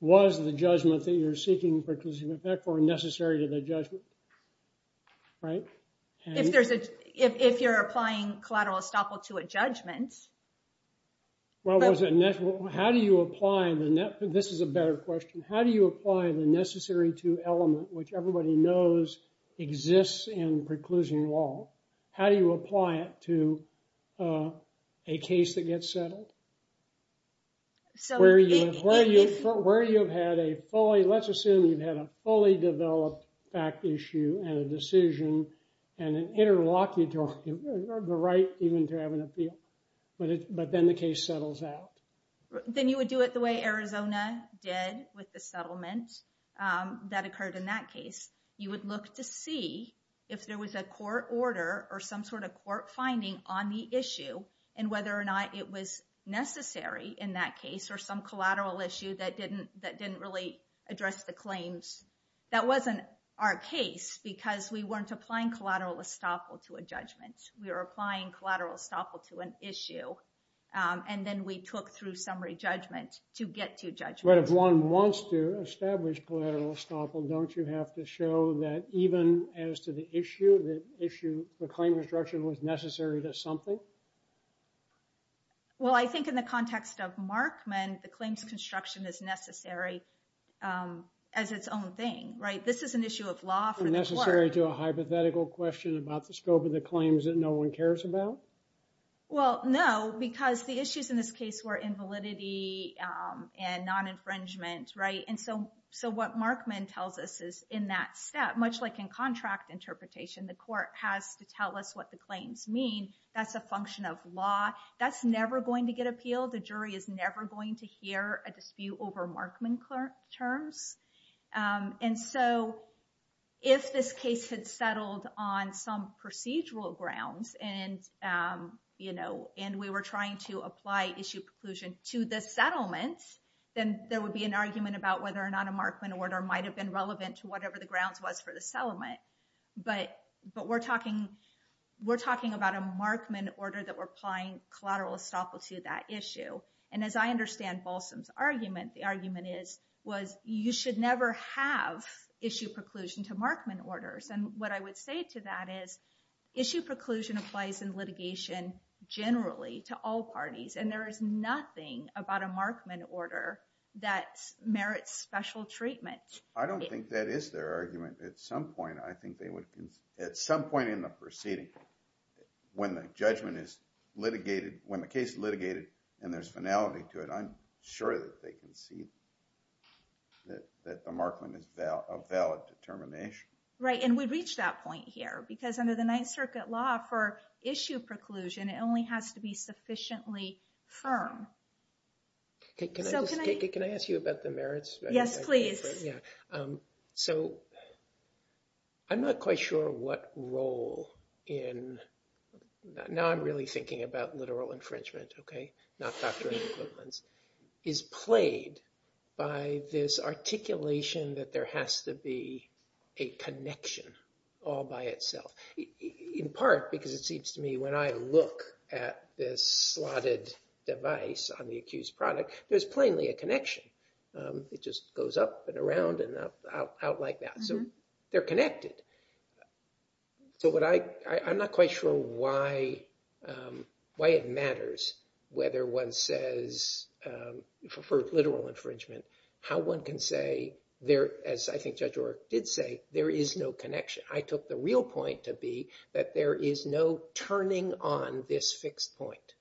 was the judgment that you're seeking necessary to the judgment. If you're applying collateral estoppel to a judgment. How do you apply the necessary to element, which everybody knows exists in preclusion law? How do you apply it to a case that gets settled? Where you have had a fully, let's assume you've had a fully developed fact issue and a decision and interlocked the right even to have an appeal. But then the case settles out. Then you would do it the way Arizona did with the settlement that occurred in that case. You would look to see if there was a court order or some sort of court finding on the issue and whether or not it was necessary in that case or some collateral issue that didn't really address the claims. That wasn't our case because we weren't applying collateral estoppel to a judgment. We were applying collateral estoppel to an issue. And then we took through summary judgment to get to judgment. But if one wants to establish collateral estoppel, don't you have to show that even as to the issue, the claim construction was necessary to assemble? Well, I think in the context of Markman, the claims construction is necessary as its own thing. This is an issue of law. Is it necessary to do a hypothetical question about the scope of the claims that no one cares about? Well, no, because the issues in this case were invalidity and non-infringement. So what Markman tells us is in that step, much like in contract interpretation, the court has to tell us what the claims mean. That's a function of law. That's never going to get appealed. The jury is never going to hear a dispute over Markman terms. And so if this case had settled on some procedural grounds and we were trying to apply issue preclusion to the settlement, then there would be an argument about whether or not a Markman order might have been relevant to whatever the grounds was for the settlement. But we're talking about a Markman order that we're applying collateral estoppel to that issue. And as I understand Bolson's argument, the argument is you should never have issue preclusion to Markman orders. And what I would say to that is issue preclusion applies in litigation generally to all parties. And there is nothing about a Markman order that merits special treatment. I don't think that is their argument. At some point in the proceeding, when the judgment is litigated, when the case is litigated and there's finality to it, I'm sure that they can see that the Markman is a valid determination. Right, and we've reached that point here. Because under the Ninth Circuit law for issue preclusion, it only has to be sufficiently firm. Can I ask you about the merits? Yes, please. So I'm not quite sure what role in, now I'm really thinking about literal infringement, okay, not doctrine of equivalence, is played by this articulation that there has to be a connection all by itself. In part because it seems to me when I look at this slotted device, on the accused product, there's plainly a connection. It just goes up and around and out like that. So they're connected. So I'm not quite sure why it matters whether one says for literal infringement, how one can say there, as I think Judge O'Rourke did say, there is no connection. I took the real point to be that there is no turning on this fixed point.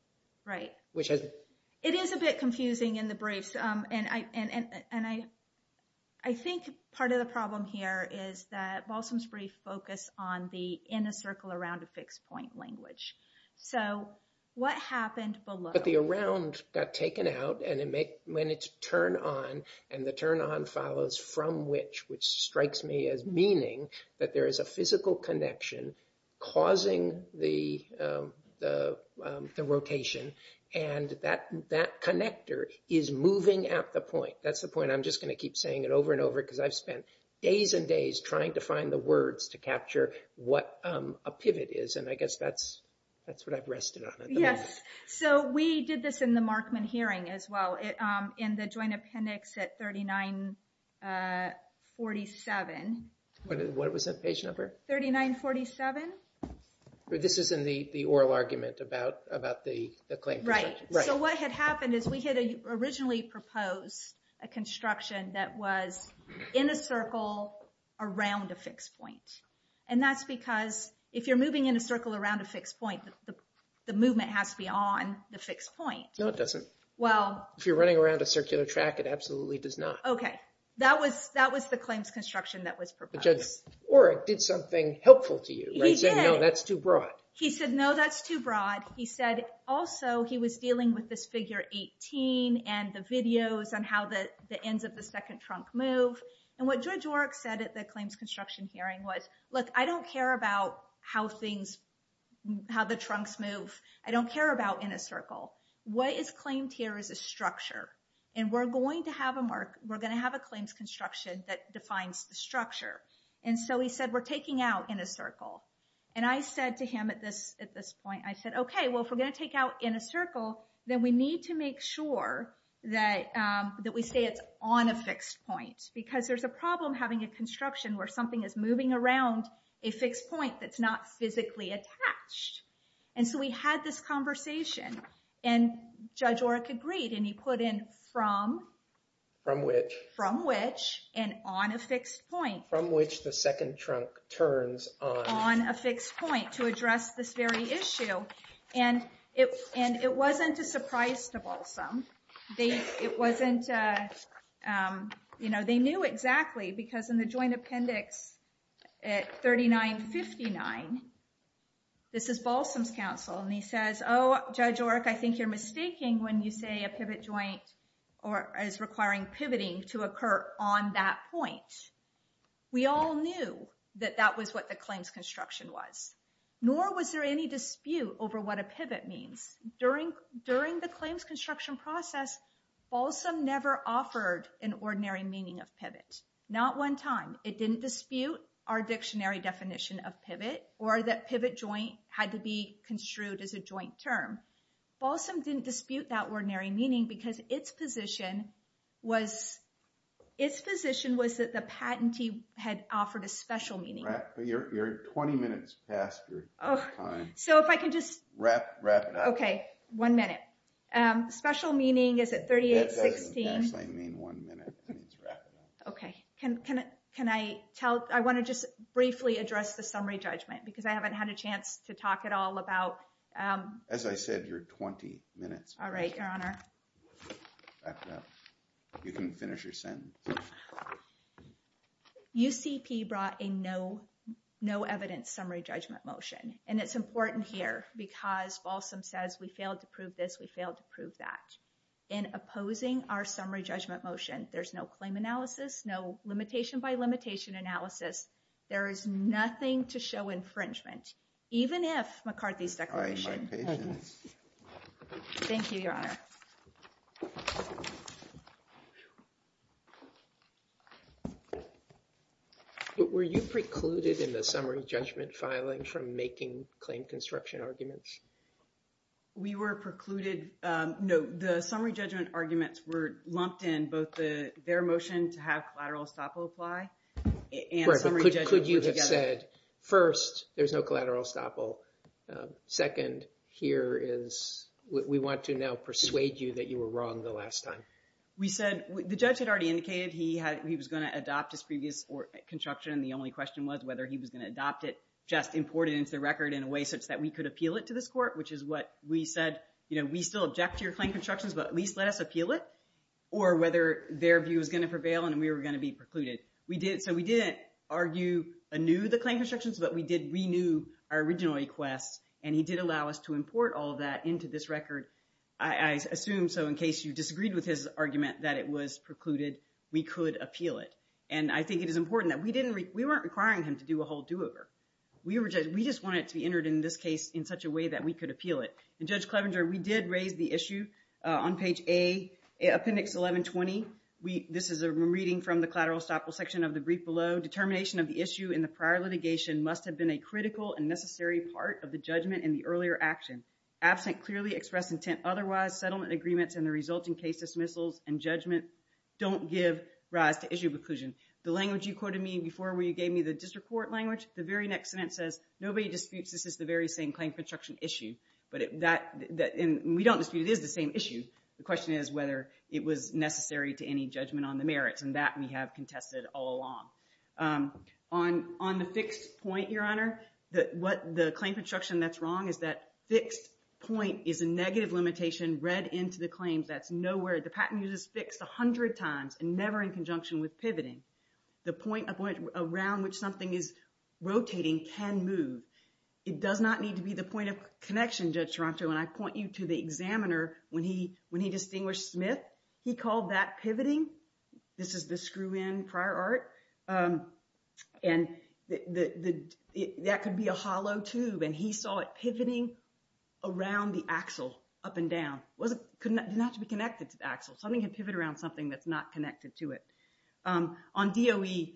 Right. It is a bit confusing in the brief. And I think part of the problem here is that Balsam's brief focused on the inner circle around a fixed point language. So what happened below? But the around got taken out and when it's turned on and the turn on follows from which, which strikes me as meaning that there is a physical connection causing the rotation. And that connector is moving at the point. That's the point I'm just going to keep saying it over and over because I've spent days and days trying to find the words to capture what a pivot is. And I guess that's what I've rested on. Yes. So we did this in the Markman hearing as well. In the joint appendix at 3947. What was the patient number? 3947. But this is in the oral argument about the claim. Right. So what had happened is we had originally proposed a construction that was in a circle around the fixed point. And that's because if you're moving in a circle around a fixed point, the movement has to be on the fixed point. No, it doesn't. Well. If you're running around a circular track, it absolutely does not. Okay. That was the claims construction that was proposed. And I don't know if George Orrick did something helpful to you. He did. That's too broad. He said, no, that's too broad. He said also he was dealing with this figure 18. And the video is on how that the ends of the second trunk move. And what George Orrick said at the claims construction hearing was like, I don't care about how things. How the trunks move. I don't care about in a circle. What is claimed here is a structure. And we're going to have a mark. And we're going to have a construction that defines the structure. And so he said, we're taking out in a circle. And I said to him at this, at this point, I said, okay, well, if we're going to take out in a circle. Then we need to make sure that, that we say it. On a fixed point. Because there's a problem having a construction where something is moving around a fixed point. That's not physically attached. And so we had this conversation. And judge Orrick agreed and he put in from. From which from which. And on a fixed point from which the second trunk turns. On a fixed point to address this very issue. And it, and it wasn't a surprise. It wasn't. You know, they knew exactly because in the joint appendix. At 39 59. We had a joint. This is Balsam's counsel. And he says, oh, judge. I think you're mistaking when you say a pivot joint. Or as requiring pivoting to occur on that point. We all knew that that was what the claims construction was. Nor was there any dispute over what a pivot means. During, during the claims construction process. Okay. Also never offered an ordinary meaning of pivots. Not one time it didn't dispute. Our dictionary definition of pivot or that pivot joint had to be construed as a joint term. Also didn't dispute that ordinary meaning because it's position. Was. It's position was that the patentee had offered a special meeting. You're 20 minutes past. Okay. So if I can just wrap it up. Okay. One minute. Special meaning is at 38. Okay. Can, can, can I tell, I want to just briefly address the summary judgment because I haven't had a chance to talk at all about. As I said, you're 20 minutes. All right. You can finish your sentence. Okay. You brought a no. No evidence summary judgment motion. And it's important here because also says we failed to prove this. We failed to prove that. And opposing our summary judgment motion. There's no claim analysis. No limitation by limitation analysis. There is nothing to show infringement. Even if McCarthy's declaration. Thank you, your honor. Were you precluded in the summary judgment filing from making claim construction arguments? We were precluded. No, the summary judgment arguments were lumped in both the, their motions have lateral stop. Apply. First, there's no collateral stop. And the second is that we have a claim construction argument. The judge has already indicated that he had, he was going to adopt his previous or construction. The only question was whether he was going to adopt it. Just important. The record in a way such that we could appeal it to this court, which is what we said. You know, we still object to your claim constructions, but at least let us appeal it. Or whether their view is going to prevail and we were going to be precluded. We did. So we did. We didn't argue a new, the claim constructions, but we did renew our original request and he did allow us to import all that into this record. I assume. So in case you disagreed with his argument, that it was precluded, we could appeal it. And I think it is important that we didn't re we weren't requiring him to do a whole do over. We were just, we just want it to be entered in this case in such a way that we could appeal it. And judge Clevenger, we did raise the issue on page a appendix 1120. We, this is a reading from the collateral stopper section of the brief below determination of the issue in the prior litigation must have been a critical and necessary part of the judgment and the earlier action absent clearly expressed intent. Otherwise settlement agreements and the resulting case dismissals and judgment don't give rise to issue preclusion. The language you quoted me before where you gave me the district court language, the very next sentence says, nobody disputes this is the very same claim construction issue, but that we don't see it is the same issue. The question is whether it was necessary to any judgment on the merit from that we have contested all along on, on the fixed point, your honor, that what the claim construction that's wrong. Is that fixed point is a negative limitation read into the claims. That's nowhere. The patent uses fixed a hundred times and never in conjunction with pivoting the point around which something is rotating can move. It does not need to be the point of connection. Judge Toronto. When I point you to the examiner, when he, when he distinguished Smith, he called that pivoting. This is the screw in prior art. And the, the, that could be a hollow tube and he saw it pivoting around the axle up and down. Well, the connection has to be connected to the axle. Something can pivot around something that's not connected to it. On DOE,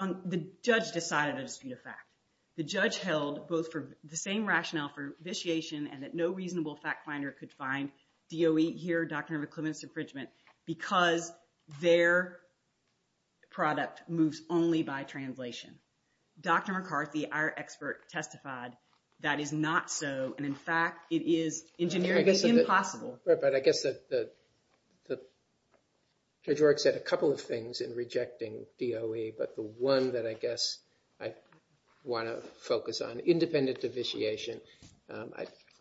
on the judge, the side of it, the fact the judge held both for the same rationale for the fact finder. No reasonable fact finder could find DOE here. Dr. McClellan's infringement because their product moves only by translation. Dr. McCarthy, our experts testified that is not so. And in fact, it is engineering. It's impossible. But I guess the, the, the. A couple of things in rejecting DOE, but the one that I guess. I want to focus on independent of vitiation.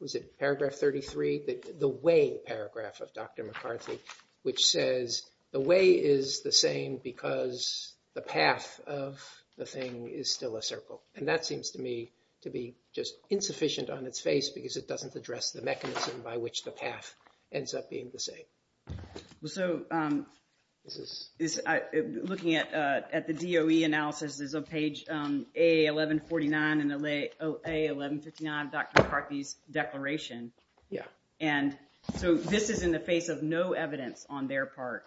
Was it paragraph 33, the way paragraph of Dr. McCarthy, which says the way is the same because the path of the thing is still a circle. And that seems to me to be just insufficient on its face because it doesn't address the mechanism by which the path ends up being the same. So. Looking at, at the DOE analysis, there's a page a 1149 in the LA 1159 Dr. McCarthy's declaration. Yeah. And so this is in the face of no evidence on their part.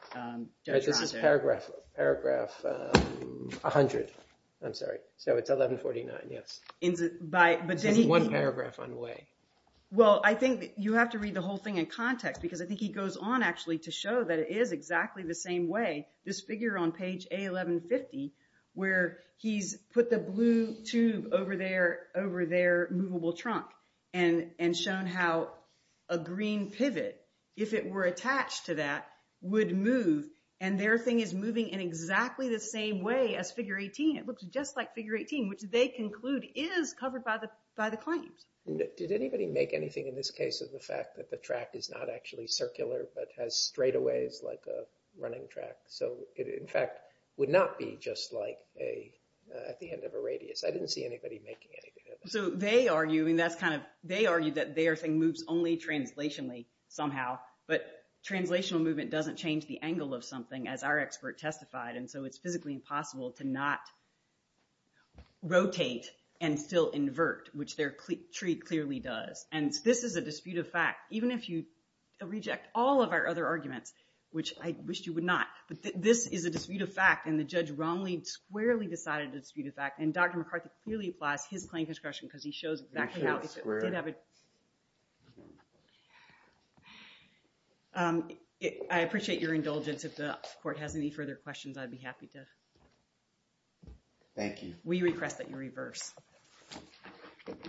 Paragraph, paragraph a hundred. I'm sorry. So it's 1149. Yep. By one paragraph on the way. Well, I think you have to read the whole thing in context because I think he said, well, I think it's exactly the same way. This figure on page a 1150. Where he's put the blue tube over there, over there. Movable trunk. And, and shown how. A green pivot. If it were attached to that would move. And their thing is moving in exactly the same way as figure 18. And it looks just like figure 18, which they conclude is covered by the, by the client. Did anybody make anything in this case of the fact that the track is not actually circular, but has straightaways like a running track. So it in fact would not be just like a, at the end of a radius. I didn't see anybody making it. So they argue, and that's kind of, they argue that they are saying moves only translationally somehow, but translational movement doesn't change the angle of something as our expert testified. And so it's physically impossible to not rotate and still invert, which their tree clearly does. And this is a dispute of fact. Even if you reject all of our other arguments, which I wish you would not, but this is a dispute of fact and the judge wrongly squarely decided to dispute his act. And Dr. McArthur really flies his plane discretion because he shows that. I appreciate your indulgence. And if the court has any further questions, I'd be happy to. Thank you. We request that you reverse.